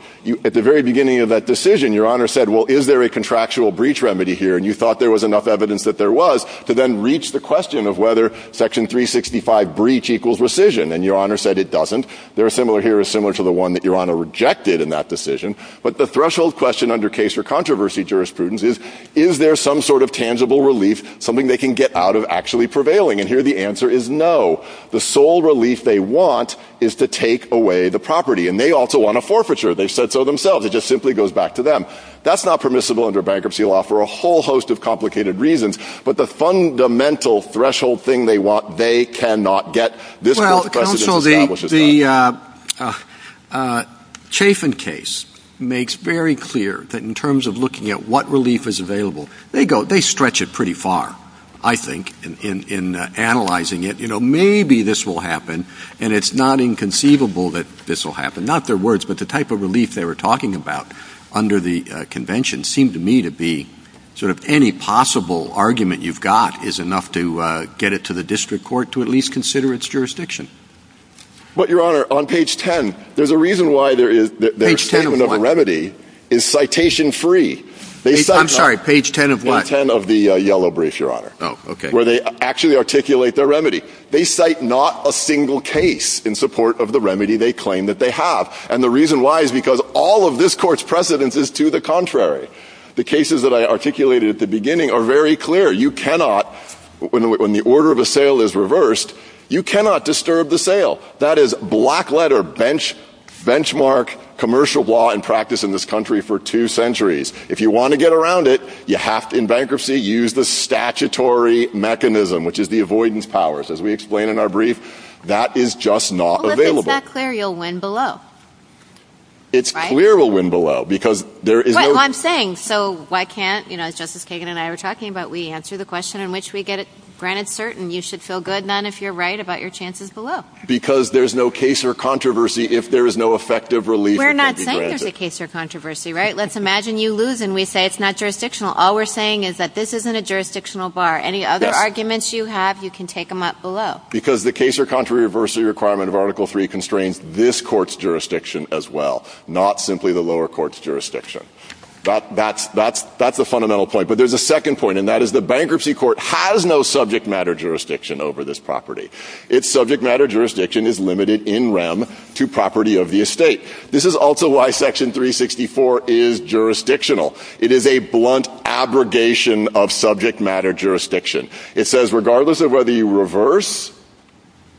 at the very beginning of that decision, Your Honor said, well, is there a contractual breach remedy here? And you thought there was enough evidence that there was to then reach the question of whether section 365 breach equals rescission. And Your Honor said it doesn't. Their similar here is similar to the one that Your Honor rejected in that decision. But the threshold question under case for controversy jurisprudence is, is there some sort of tangible relief, something they can get out of actually prevailing? And here the answer is no. The sole relief they want is to take away the property. And they also want a forfeiture. They said so themselves. It just simply goes back to them. That's not permissible under bankruptcy law for a whole host of complicated reasons. But the fundamental threshold thing they want, they cannot get. This court tried to establish it. Well, counsel, the Chafin case makes very clear that in terms of looking at what relief is available, they go, they stretch it pretty far, I think, in analyzing it. You know, maybe this will happen, and it's not inconceivable that this will happen. Not their words, but the type of relief they were talking about under the convention seemed to me to be sort of any possible argument you've got is enough to get it to the district court to at least consider its jurisdiction. But Your Honor, on page 10, there's a reason why there is a remedy is citation-free. I'm sorry, page 10 of what? Page 10 of the yellow brief, Your Honor. Oh, okay. Where they actually articulate their remedy. They cite not a single case in support of the remedy they claim that they have. And the reason why is because all of this court's precedence is to the contrary. The cases that I articulated at the beginning are very clear. You cannot, when the order of assail is reversed, you cannot disturb the sale. That is black letter benchmark commercial law in practice in this country for two centuries. If you want to get around it, you have to, in bankruptcy, use the statutory mechanism, which is the avoidance powers. As we explain in our brief, that is just not available. But it's not clear you'll win below. It's clear we'll win below because there is no. Well, I'm saying, so why can't, you know, Justice Kagan and I were talking about we answer the question in which we get it granted certain you should feel good, none if you're right, about your chances below. Because there's no case or controversy if there is no effective relief. We're not saying there's a case or controversy, right? Let's imagine you lose and we say it's not jurisdictional. All we're saying is that this isn't a jurisdictional bar. Any other arguments you have, you can take them up below. Because the case or controversy requirement of Article III constrains this court's jurisdiction as well, not simply the lower court's jurisdiction. That's the fundamental point. But there's a second point, and that is the bankruptcy court has no subject matter jurisdiction over this property. Its subject matter jurisdiction is limited in rem to property of the estate. This is also why Section 364 is jurisdictional. It is a blunt abrogation of subject matter jurisdiction. It says regardless of whether you reverse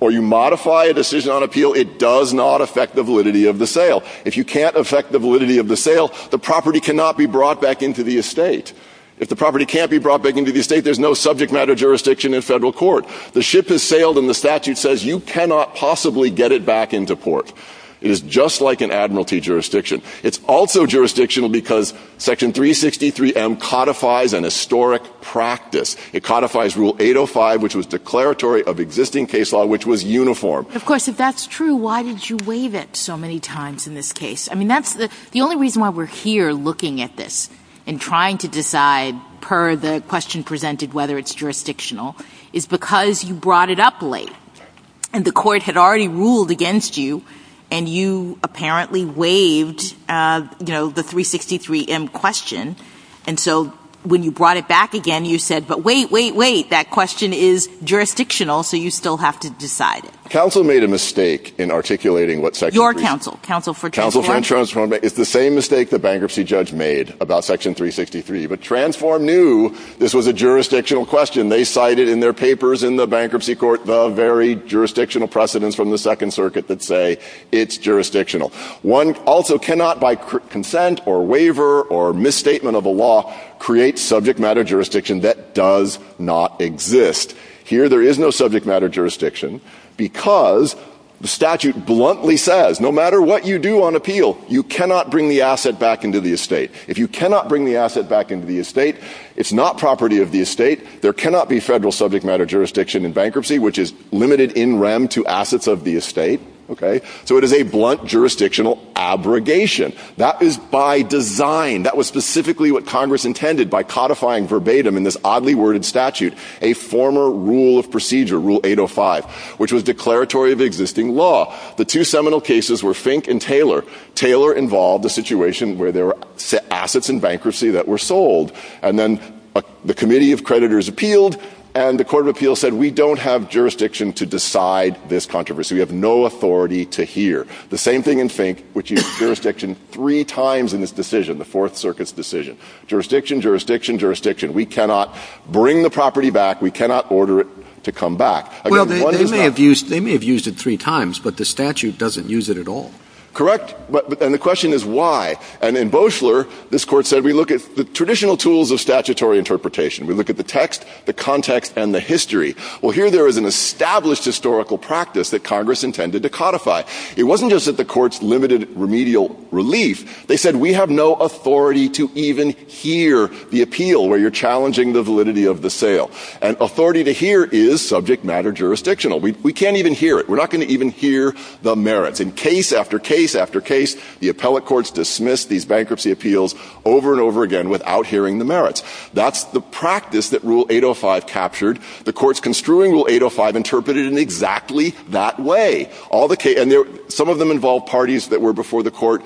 or you modify a decision on appeal, it does not affect the validity of the sale. If you can't affect the validity of the sale, the property cannot be brought back into the estate. If the property can't be brought back into the estate, there's no subject matter jurisdiction in federal court. The ship has sailed and the statute says you cannot possibly get it back into port. It is just like an admiralty jurisdiction. It's also jurisdictional because Section 363M codifies an historic practice. It codifies Rule 805, which was declaratory of existing case law, which was uniform. Of course, if that's true, why did you waive it so many times in this case? I mean, that's the only reason why we're here looking at this and trying to decide, per the question presented, whether it's jurisdictional, is because you brought it up late. And the court had already ruled against you, and you apparently waived, you know, the 363M question, and so when you brought it back again, you said, but wait, wait, wait. That question is jurisdictional, so you still have to decide. Council made a mistake in articulating what Section 3. Your council. Council for Insurance Reform. It's the same mistake the bankruptcy judge made about Section 363, but Transform knew this was a jurisdictional question. They cited in their papers in the bankruptcy court the very jurisdictional precedents from the Second Circuit that say it's jurisdictional. One also cannot, by consent or waiver or misstatement of a law, create subject matter jurisdiction that does not exist. Here, there is no subject matter jurisdiction because the statute bluntly says, no matter what you do on appeal, you cannot bring the asset back into the estate. If you cannot bring the asset back into the estate, it's not property of the estate. There cannot be federal subject matter jurisdiction in bankruptcy, which is limited in rem to assets of the estate, okay? So it is a blunt jurisdictional abrogation. That is by design. That was specifically what Congress intended by codifying verbatim in this oddly worded statute, a former rule of procedure, Rule 805, which was declaratory of existing law. The two seminal cases were Fink and Taylor. Taylor involved a situation where there were assets in bankruptcy that were sold, and then the Committee of Creditors appealed, and the Court of Appeals said, we don't have jurisdiction to decide this controversy. We have no authority to hear. The same thing in Fink, which used jurisdiction three times in this decision, the Fourth Circuit's decision. Jurisdiction, jurisdiction, jurisdiction. We cannot bring the property back. We cannot order it to come back. Again, one does not. Well, they may have used it three times, but the statute doesn't use it at all. Correct. And the question is why. And in Boeschler, this court said, we look at the traditional tools of statutory interpretation. We look at the text, the context, and the history. Well, here there is an established historical practice that Congress intended to codify. It wasn't just that the courts limited remedial relief. They said, we have no authority to even hear the appeal where you're challenging the validity of the sale. And authority to hear is subject matter jurisdictional. We can't even hear it. We're not going to even hear the merits. In case after case after case, the appellate courts dismissed these bankruptcy appeals over and over again without hearing the merits. That's the practice that Rule 805 captured. The courts construing Rule 805 interpreted it in exactly that way. All the cases, and some of them involved parties that were before the court.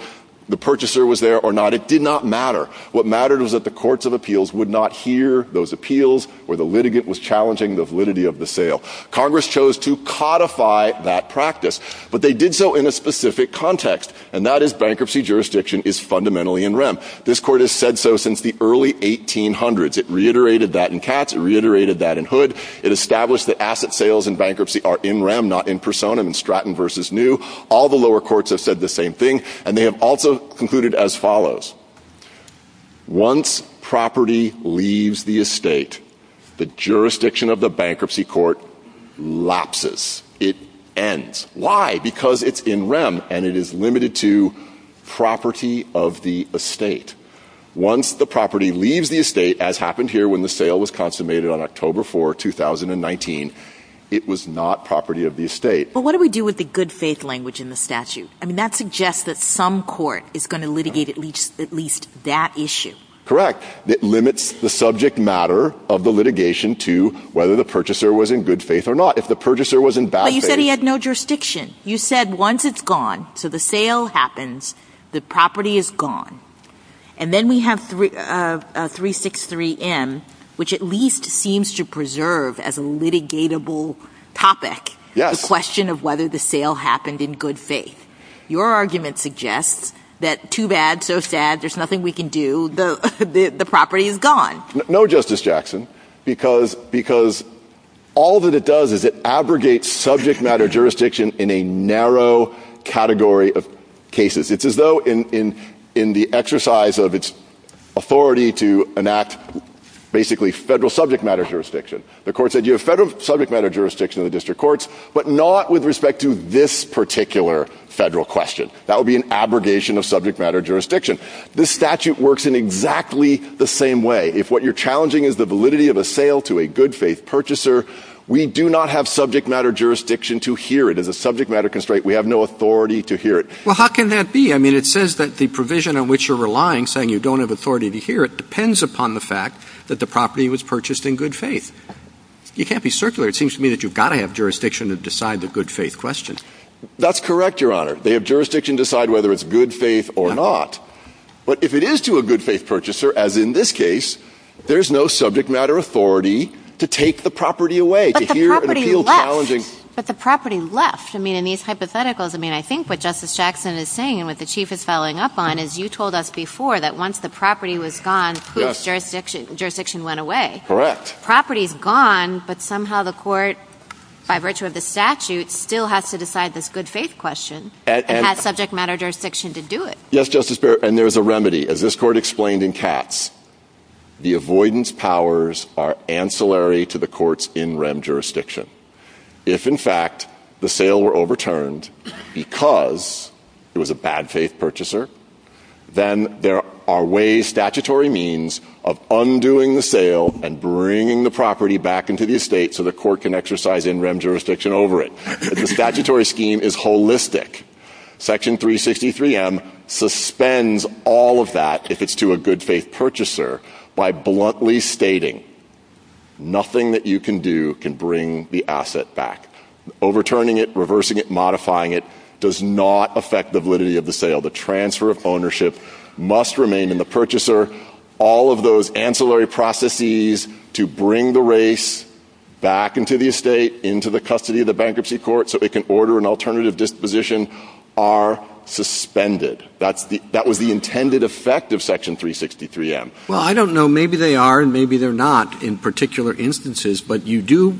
The purchaser was there or not. It did not matter. What mattered was that the courts of appeals would not hear those appeals where the litigant was challenging the validity of the sale. Congress chose to codify that practice. But they did so in a specific context. And that is bankruptcy jurisdiction is fundamentally in rem. This court has said so since the early 1800s. It reiterated that in Katz. It reiterated that in Hood. It established that asset sales in bankruptcy are in rem, not in personam, in Stratton versus New. All the lower courts have said the same thing. And they have also concluded as follows. Once property leaves the estate, the jurisdiction of the bankruptcy court lapses. It ends. Why? Because it's in rem and it is limited to property of the estate. Once the property leaves the estate, as happened here when the sale was consummated on October 4, 2019, it was not property of the estate. Well, what do we do with the good faith language in the statute? I mean, that suggests that some court is going to litigate at least that issue. Correct. It limits the subject matter of the litigation to whether the purchaser was in good faith or not. If the purchaser was in bad faith, he had no jurisdiction. You said once it's gone to the sale happens, the property is gone. And then we have three of three, six, three M, which at least seems to preserve as a litigatable topic. Yes. Question of whether the sale happened in good faith. Your argument suggests that too bad. So sad. There's nothing we can do. The property is gone. No, Justice Jackson, because because all that it does is it abrogates subject matter jurisdiction in a narrow category of cases. It's as though in in the exercise of its authority to enact basically federal subject matter jurisdiction, the court said you have federal subject matter jurisdiction in the district courts, but not with respect to this particular federal question. That would be an abrogation of subject matter jurisdiction. This statute works in exactly the same way. If what you're challenging is the validity of a sale to a good faith purchaser, we do not have subject matter jurisdiction to hear it as a subject matter constraint. We have no authority to hear it. Well, how can that be? I mean, it says that the provision in which you're relying, saying you don't have authority to hear it, depends upon the fact that the property was purchased in good faith. You can't be circular. It seems to me that you've got to have jurisdiction to decide the good faith question. That's correct, Your Honor. They have jurisdiction to decide whether it's good faith or not. But if it is to a good faith purchaser, as in this case, there's no subject matter authority to take the property away. But the property left. But the property left. I mean, in these hypotheticals, I mean, I think what Justice Jackson is saying and what the chief is following up on is you told us before that once the property was gone, jurisdiction went away. Correct. Property's gone. But somehow the court, by virtue of the statute, still has to decide this good faith question and has subject matter jurisdiction to do it. Yes, Justice Barrett. And there's a remedy. As this court explained in Katz, the avoidance powers are ancillary to the court's in rem jurisdiction. If, in fact, the sale were overturned because it was a bad faith purchaser, then there are ways, statutory means of undoing the sale and bringing the property back into the estate so the court can exercise in a holistic Section 363 M suspends all of that. If it's to a good faith purchaser, by bluntly stating nothing that you can do can bring the asset back, overturning it, reversing it, modifying it does not affect the validity of the sale. The transfer of ownership must remain in the purchaser. All of those ancillary processes to bring the race back into the estate, into the custody of the bankruptcy court so it can order an alternative disposition are suspended. That's that was the intended effect of Section 363 M. Well, I don't know. Maybe they are and maybe they're not in particular instances. But you do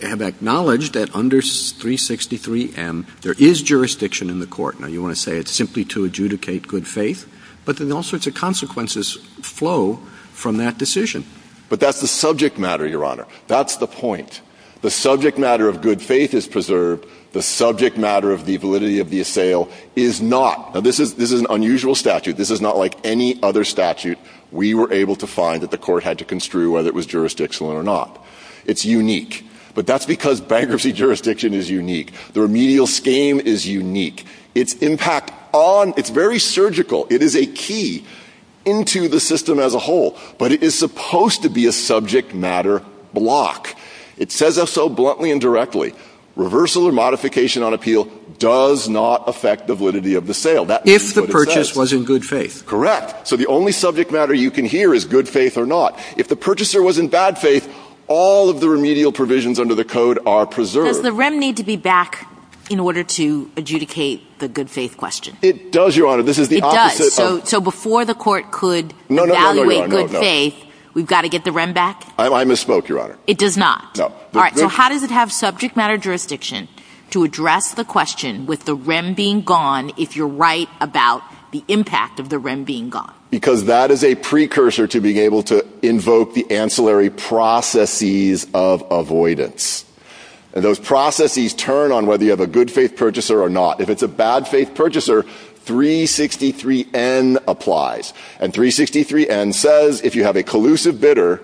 have acknowledged that under 363 M, there is jurisdiction in the court. Now, you want to say it's simply to adjudicate good faith. But then all sorts of consequences flow from that decision. But that's the subject matter, Your Honor. That's the point. The subject matter of good faith is preserved. The subject matter of the validity of the sale is not. Now, this is this is an unusual statute. This is not like any other statute. We were able to find that the court had to construe whether it was jurisdictional or not. It's unique. But that's because bankruptcy jurisdiction is unique. The remedial scheme is unique. Its impact on it's very surgical. It is a key into the system as a whole. But it is supposed to be a subject matter block. It says so bluntly and directly. Reversal or modification on appeal does not affect the validity of the sale. That if the purchase was in good faith. Correct. So the only subject matter you can hear is good faith or not. If the purchaser was in bad faith, all of the remedial provisions under the code are preserved. The rem need to be back in order to adjudicate the good faith question. It does, Your Honor. This is the opposite. So before the court could evaluate good faith, we've got to get the rem back. I misspoke, Your Honor. It does not. No. All right. How does it have subject matter jurisdiction to address the question with the rem being gone? If you're right about the impact of the rem being gone. Because that is a precursor to being able to invoke the ancillary processes of avoidance. And those processes turn on whether you have a good faith purchaser or not. If it's a bad faith purchaser, 363 N applies. And 363 N says if you have a collusive bidder,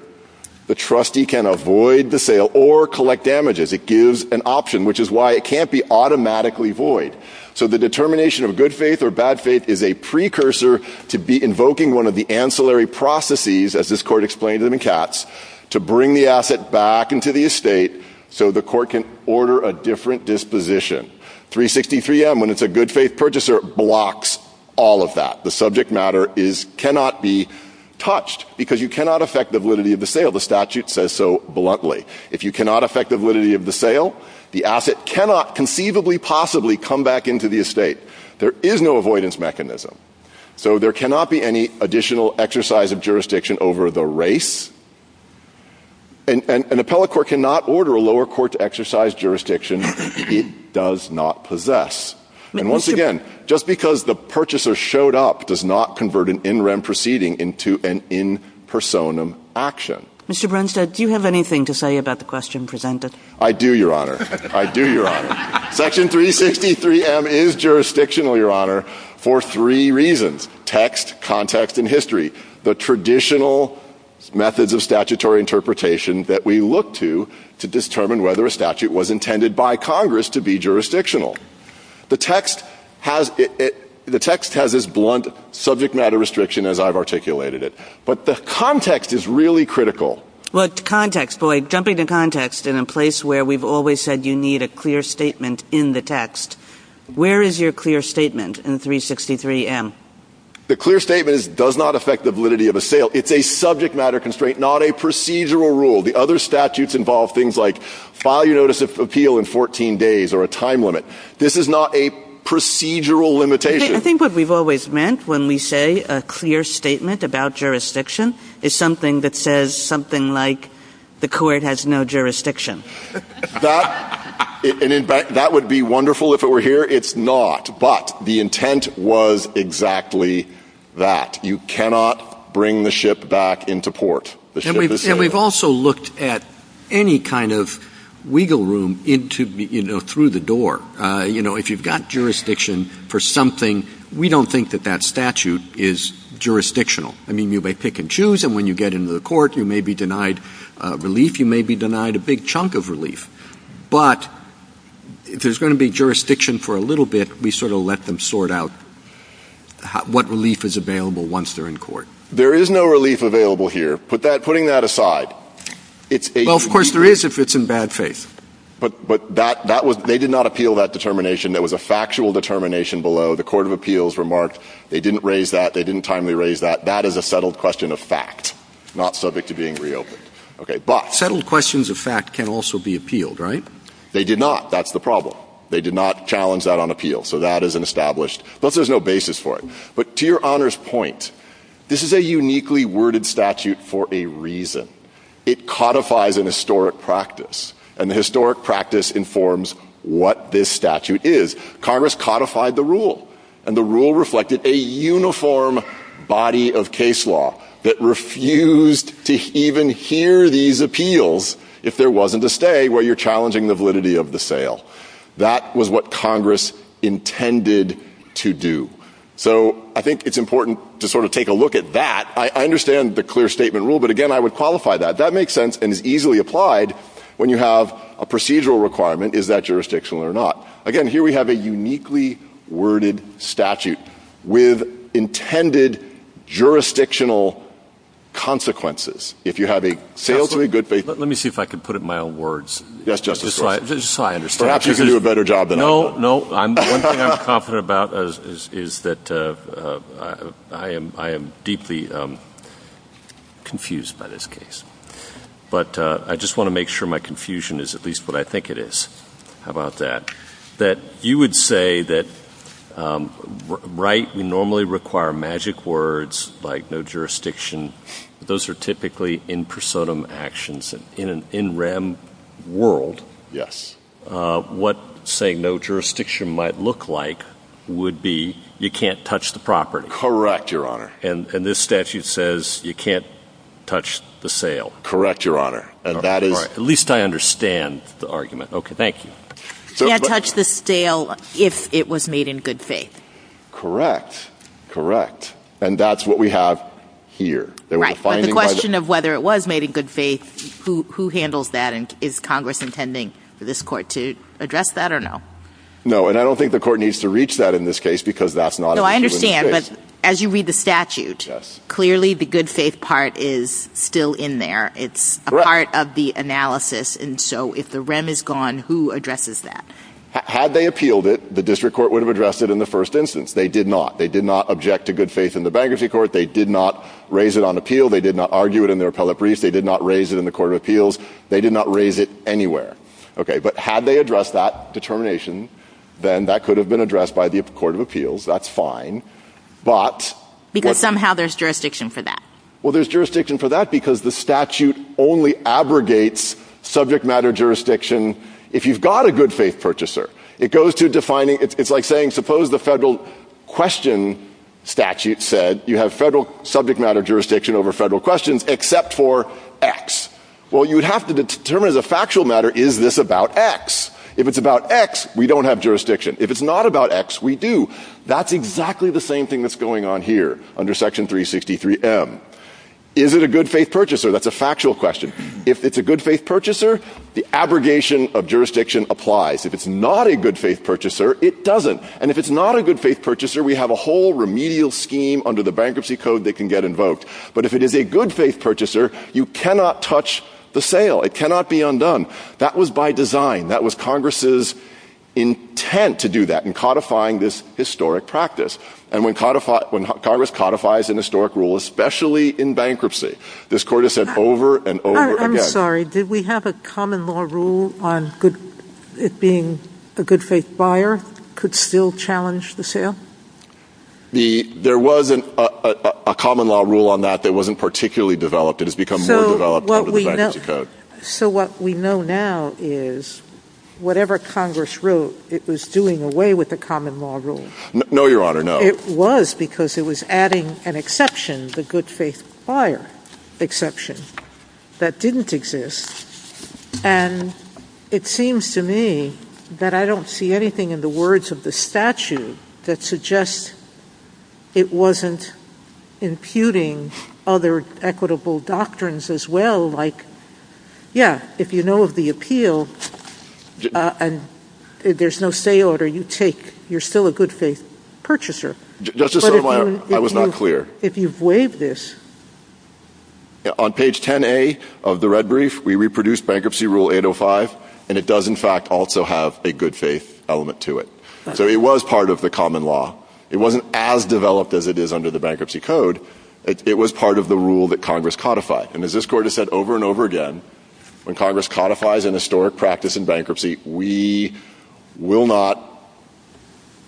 the trustee can avoid the sale or collect damages. It gives an option, which is why it can't be automatically void. So the determination of good faith or bad faith is a precursor to be invoking one of the ancillary processes, as this court explained in Katz, to bring the asset back into the estate so the court can order a different disposition. 363 M, when it's a good faith purchaser, blocks all of that. The subject matter is cannot be touched because you cannot affect the validity of the sale. The statute says so bluntly. If you cannot affect the validity of the sale, the asset cannot conceivably possibly come back into the estate. There is no avoidance mechanism. So there cannot be any additional exercise of jurisdiction over the race. And an appellate court cannot order a lower court to exercise jurisdiction it does not possess. And once again, just because the purchaser showed up does not convert an in rem proceeding into an in personam action. Mr. Brunstad, do you have anything to say about the question presented? I do, Your Honor. I do, Your Honor. Section 363 M is jurisdictional, Your Honor, for three reasons. Text, context, and history. The traditional methods of statutory interpretation that we look to to determine whether a statute was intended by Congress to be jurisdictional. The text has the text has this blunt subject matter restriction as I've articulated it. But the context is really critical. What context? Boy, jumping to context in a place where we've always said you need a clear statement in the text. Where is your clear statement in 363 M? The clear statement does not affect the validity of a sale. It's a subject matter constraint, not a procedural rule. The other statutes involve things like file your notice of appeal in 14 days or a time limit. This is not a procedural limitation. I think what we've always meant when we say a clear statement about jurisdiction is something that says something like the court has no jurisdiction. That that would be wonderful if it were here. It's not. But the intent was exactly that. You cannot bring the ship back into port. And we've also looked at any kind of wiggle room into, you know, through the door. You know, if you've got jurisdiction for something, we don't think that that statute is jurisdictional. I mean, you may pick and choose. And when you get into the court, you may be denied relief. You may be denied a big chunk of relief. But if there's going to be jurisdiction for a little bit, we sort of let them sort out what relief is available once they're in court. There is no relief available here. But that putting that aside, it's of course, there is if it's in bad faith. But but that that was they did not appeal that determination. There was a factual determination below the court of appeals remarked. They didn't raise that. They didn't timely raise that. That is a settled question of fact, not subject to being reopened. OK, but settled questions of fact can also be appealed, right? They did not. That's the problem. They did not challenge that on appeal. So that is an established. But there's no basis for it. But to your honor's point, this is a uniquely worded statute for a reason. It codifies an historic practice and the historic practice informs what this statute is. Congress codified the rule and the rule reflected a uniform body of case law that refused to even hear these appeals if there wasn't a stay where you're challenging the validity of the sale. That was what Congress intended to do. So I think it's important to sort of take a look at that. I understand the clear statement rule. But again, I would qualify that. That makes sense and is easily applied when you have a procedural requirement. Is that jurisdictional or not? Again, here we have a uniquely worded statute with intended jurisdictional consequences. If you have a sales, a good faith. Let me see if I can put it my own words. Yes, just as I understand, you can do a better job. No, no, I'm confident about is that I am I am deeply confused by this case, but I just want to make sure my confusion is at least what I think it is about that, that you would say that right. You normally require magic words like no jurisdiction. Those are typically in personum actions in an in rem world. Yes. What say no jurisdiction might look like would be you can't touch the property. Correct. Your honor. And this statute says you can't touch the sale. Correct. Your honor. And that is at least I understand the argument. Okay. Thank you. Touch the sale if it was made in good faith. Correct. Correct. And that's what we have here. The question of whether it was made in good faith, who who handles that? And is Congress intending for this court to address that or no? No, and I don't think the court needs to reach that in this case because that's not. So I understand. But as you read the statute, clearly the good faith part is still in there. It's a part of the analysis. And so if the rem is gone, who addresses that? Had they appealed it, the district court would have addressed it in the first instance. They did not. They did not object to good faith in the bankruptcy court. They did not raise it on appeal. They did not argue it in their appellate brief. They did not raise it in the court of appeals. They did not raise it anywhere. OK, but had they addressed that determination, then that could have been addressed by the court of appeals. That's fine. But somehow there's jurisdiction for that. Well, there's jurisdiction for that because the statute only abrogates subject matter jurisdiction. If you've got a good faith purchaser, it goes to defining. It's like saying, suppose the federal question statute said you have federal subject matter jurisdiction over federal questions except for X. Well, you would have to determine as a factual matter, is this about X? If it's about X, we don't have jurisdiction. If it's not about X, we do. That's exactly the same thing that's going on here under Section 363 M. Is it a good faith purchaser? That's a factual question. If it's a good faith purchaser, the abrogation of jurisdiction applies. If it's not a good faith purchaser, it doesn't. And if it's not a good faith purchaser, we have a whole remedial scheme under the bankruptcy code that can get invoked. But if it is a good faith purchaser, you cannot touch the sale. It cannot be undone. That was by design. That was Congress's intent to do that in codifying this historic practice. And when codified when Congress codifies an historic rule, especially in bankruptcy, this court has said over and over again. Sorry, did we have a common law rule on it being a good faith buyer could still challenge the sale? There wasn't a common law rule on that that wasn't particularly developed. It has become more developed. So what we know now is whatever Congress wrote, it was doing away with the common law rule. No, Your Honor. No, it was because it was adding an exception. The good faith buyer exception that didn't exist. And it seems to me that I don't see anything in the words of the statute that suggests it wasn't imputing other equitable doctrines as well. Like, yeah, if you know of the appeal and there's no sale order, you take you're still a good faith purchaser. Just to say, I was not clear if you've waived this on page 10A of the red brief, we reproduce bankruptcy rule 805, and it does, in fact, also have a good faith element to it. So it was part of the common law. It wasn't as developed as it is under the bankruptcy code. It was part of the rule that Congress codified. And as this court has said over and over again, when Congress codifies an historic practice in bankruptcy, we will not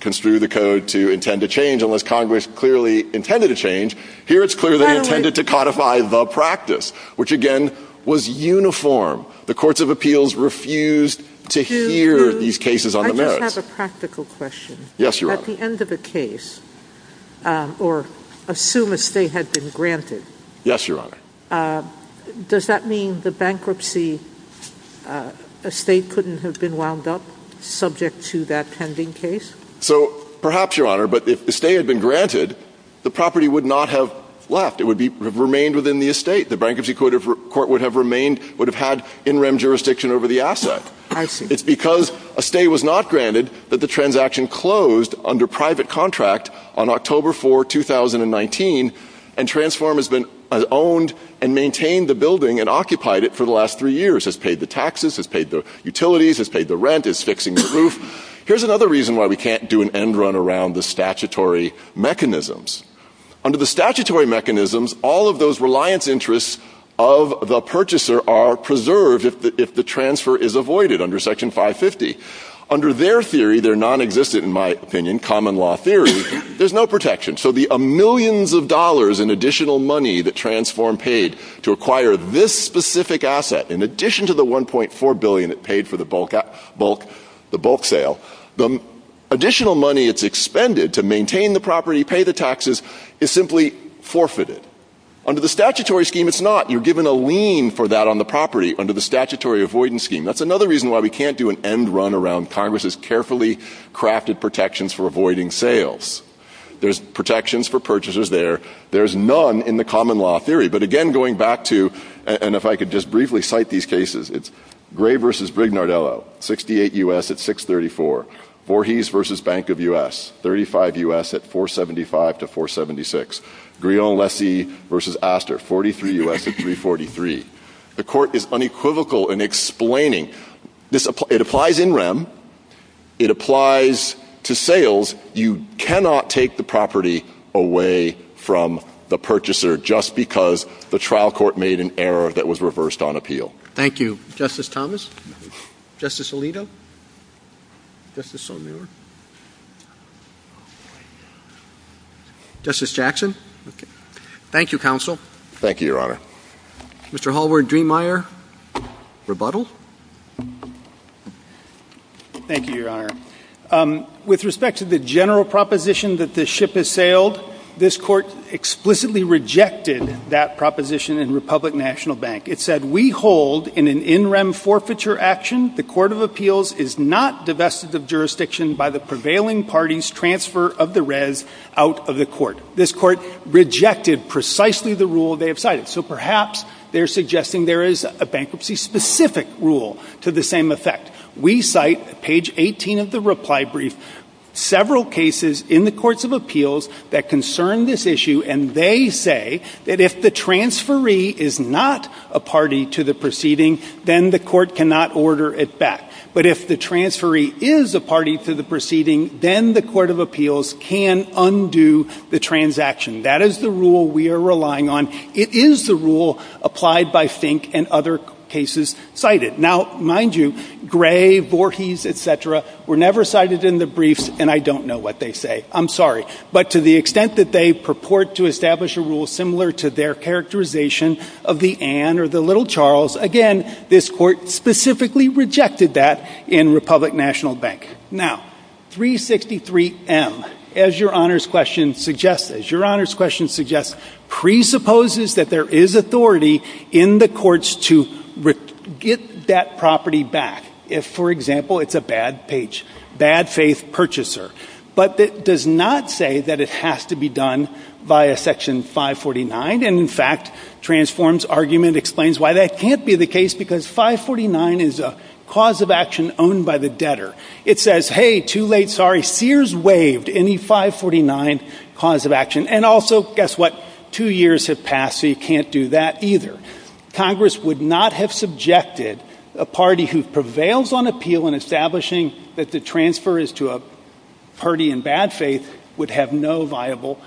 construe the code to intend to change unless Congress clearly intended to change. Here, it's clear they intended to codify the practice, which, again, was uniform. The courts of appeals refused to hear these cases on the merits. I have a practical question. Yes, Your Honor. At the end of the case, or assume a stay had been granted. Yes, Your Honor. Does that mean the bankruptcy estate couldn't have been wound up subject to that pending case? So perhaps, Your Honor, but if the stay had been granted, the property would not have left. It would have remained within the estate. The bankruptcy court would have remained, would have had in-rem jurisdiction over the asset. It's because a stay was not granted that the transaction closed under private contract on October 4, 2019, and Transform has been owned and maintained the building and occupied it for the last three years. It's paid the taxes, it's paid the utilities, it's paid the rent, it's fixing the roof. Here's another reason why we can't do an end run around the statutory mechanisms. Under the statutory mechanisms, all of those reliance interests of the purchaser are preserved if the transfer is avoided under Section 550. Under their theory, their non-existent, in my opinion, common law theory, there's no protection. So the millions of dollars in additional money that Transform paid to acquire this specific asset, in addition to the $1.4 billion it paid for the bulk sale, the additional money it's expended to maintain the property, pay the taxes, is simply forfeited. Under the statutory scheme, it's not. You're given a lien for that on the property under the statutory avoidance scheme. That's another reason why we can't do an end run around Congress's carefully crafted protections for avoiding sales. There's protections for purchasers there. There's none in the common law theory. But again, going back to, and if I could just briefly cite these cases, it's Gray vs. Brignardello, 68 U.S. at 634, Voorhees vs. Bank of U.S., 35 U.S. at 475 to 476, Grillon-Lessie vs. Astor, 43 U.S. at 343. The court is unequivocal in explaining, it applies in rem, it applies to sales. You cannot take the property away from the purchaser just because the trial court made an error that was reversed on appeal. Thank you, Justice Thomas. Justice Alito. Justice O'Neill. Justice Jackson. Thank you, Counsel. Thank you, Your Honor. Mr. Hallward-Driemeier, rebuttal. Thank you, Your Honor. With respect to the general proposition that the ship has sailed, this court explicitly rejected that proposition in Republic National Bank. It said, we hold in an in rem forfeiture action, the court of appeals is not divested of jurisdiction by the prevailing party's transfer of the res out of the court. This court rejected precisely the rule they have cited. So perhaps they're suggesting there is a bankruptcy-specific rule to the same effect. We cite, page 18 of the reply brief, several cases in the courts of appeals that concern this issue. And they say that if the transferee is not a party to the proceeding, then the court cannot order it back. But if the transferee is a party to the proceeding, then the court of appeals can undo the transaction. That is the rule we are relying on. It is the rule applied by Fink and other cases cited. Now, mind you, Gray, Voorhees, et cetera, were never cited in the briefs, and I don't know what they say. I'm sorry. But to the extent that they purport to establish a rule similar to their characterization of the Anne or the little Charles, again, this court specifically rejected that in Republic National Bank. Now, 363M, as your honors question suggests, presupposes that there is authority in the courts to get that property back if, for example, it's a bad page, bad faith purchaser. But it does not say that it has to be done by a section 549. And, in fact, Transform's argument explains why that can't be the case, because 549 is a cause of action owned by the debtor. It says, hey, too late, sorry, Sears waived any 549 cause of action. And also, guess what, two years have passed, so you can't do that either. Congress would not have subjected a party who prevails on appeal in establishing that the transfer is to a party in bad faith would have no viable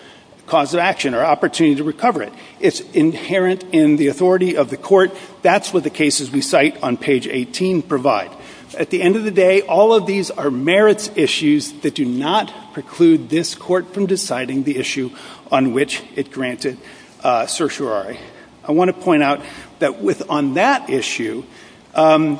cause of action or opportunity to recover it. It's inherent in the authority of the court. That's what the cases we cite on page 18 provide. At the end of the day, all of these are merits issues that do not preclude this court from deciding the issue on which it granted certiorari. I want to point out that on that issue,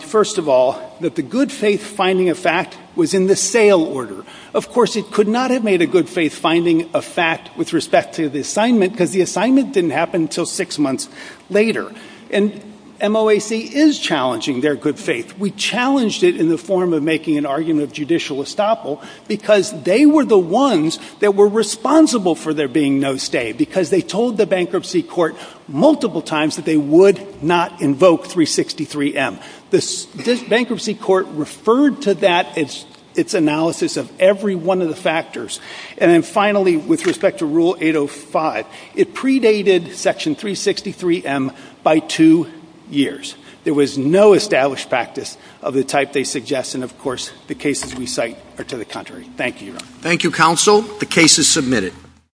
first of all, that the good faith finding of fact was in the sale order. Of course, it could not have made a good faith finding of fact with respect to the assignment, because the assignment didn't happen until six months later. And MOAC is challenging their good faith. We challenged it in the form of making an argument of judicial estoppel, because they were the ones that were responsible for there being no stay, because they told the bankruptcy court multiple times that they would not invoke 363-M. This bankruptcy court referred to that as its analysis of every one of the factors. And then finally, with respect to Rule 805, it predated Section 363-M by two years. There was no established practice of the type they suggest, and of course, the cases we cite are to the contrary. Thank you. Thank you, counsel. The case is submitted.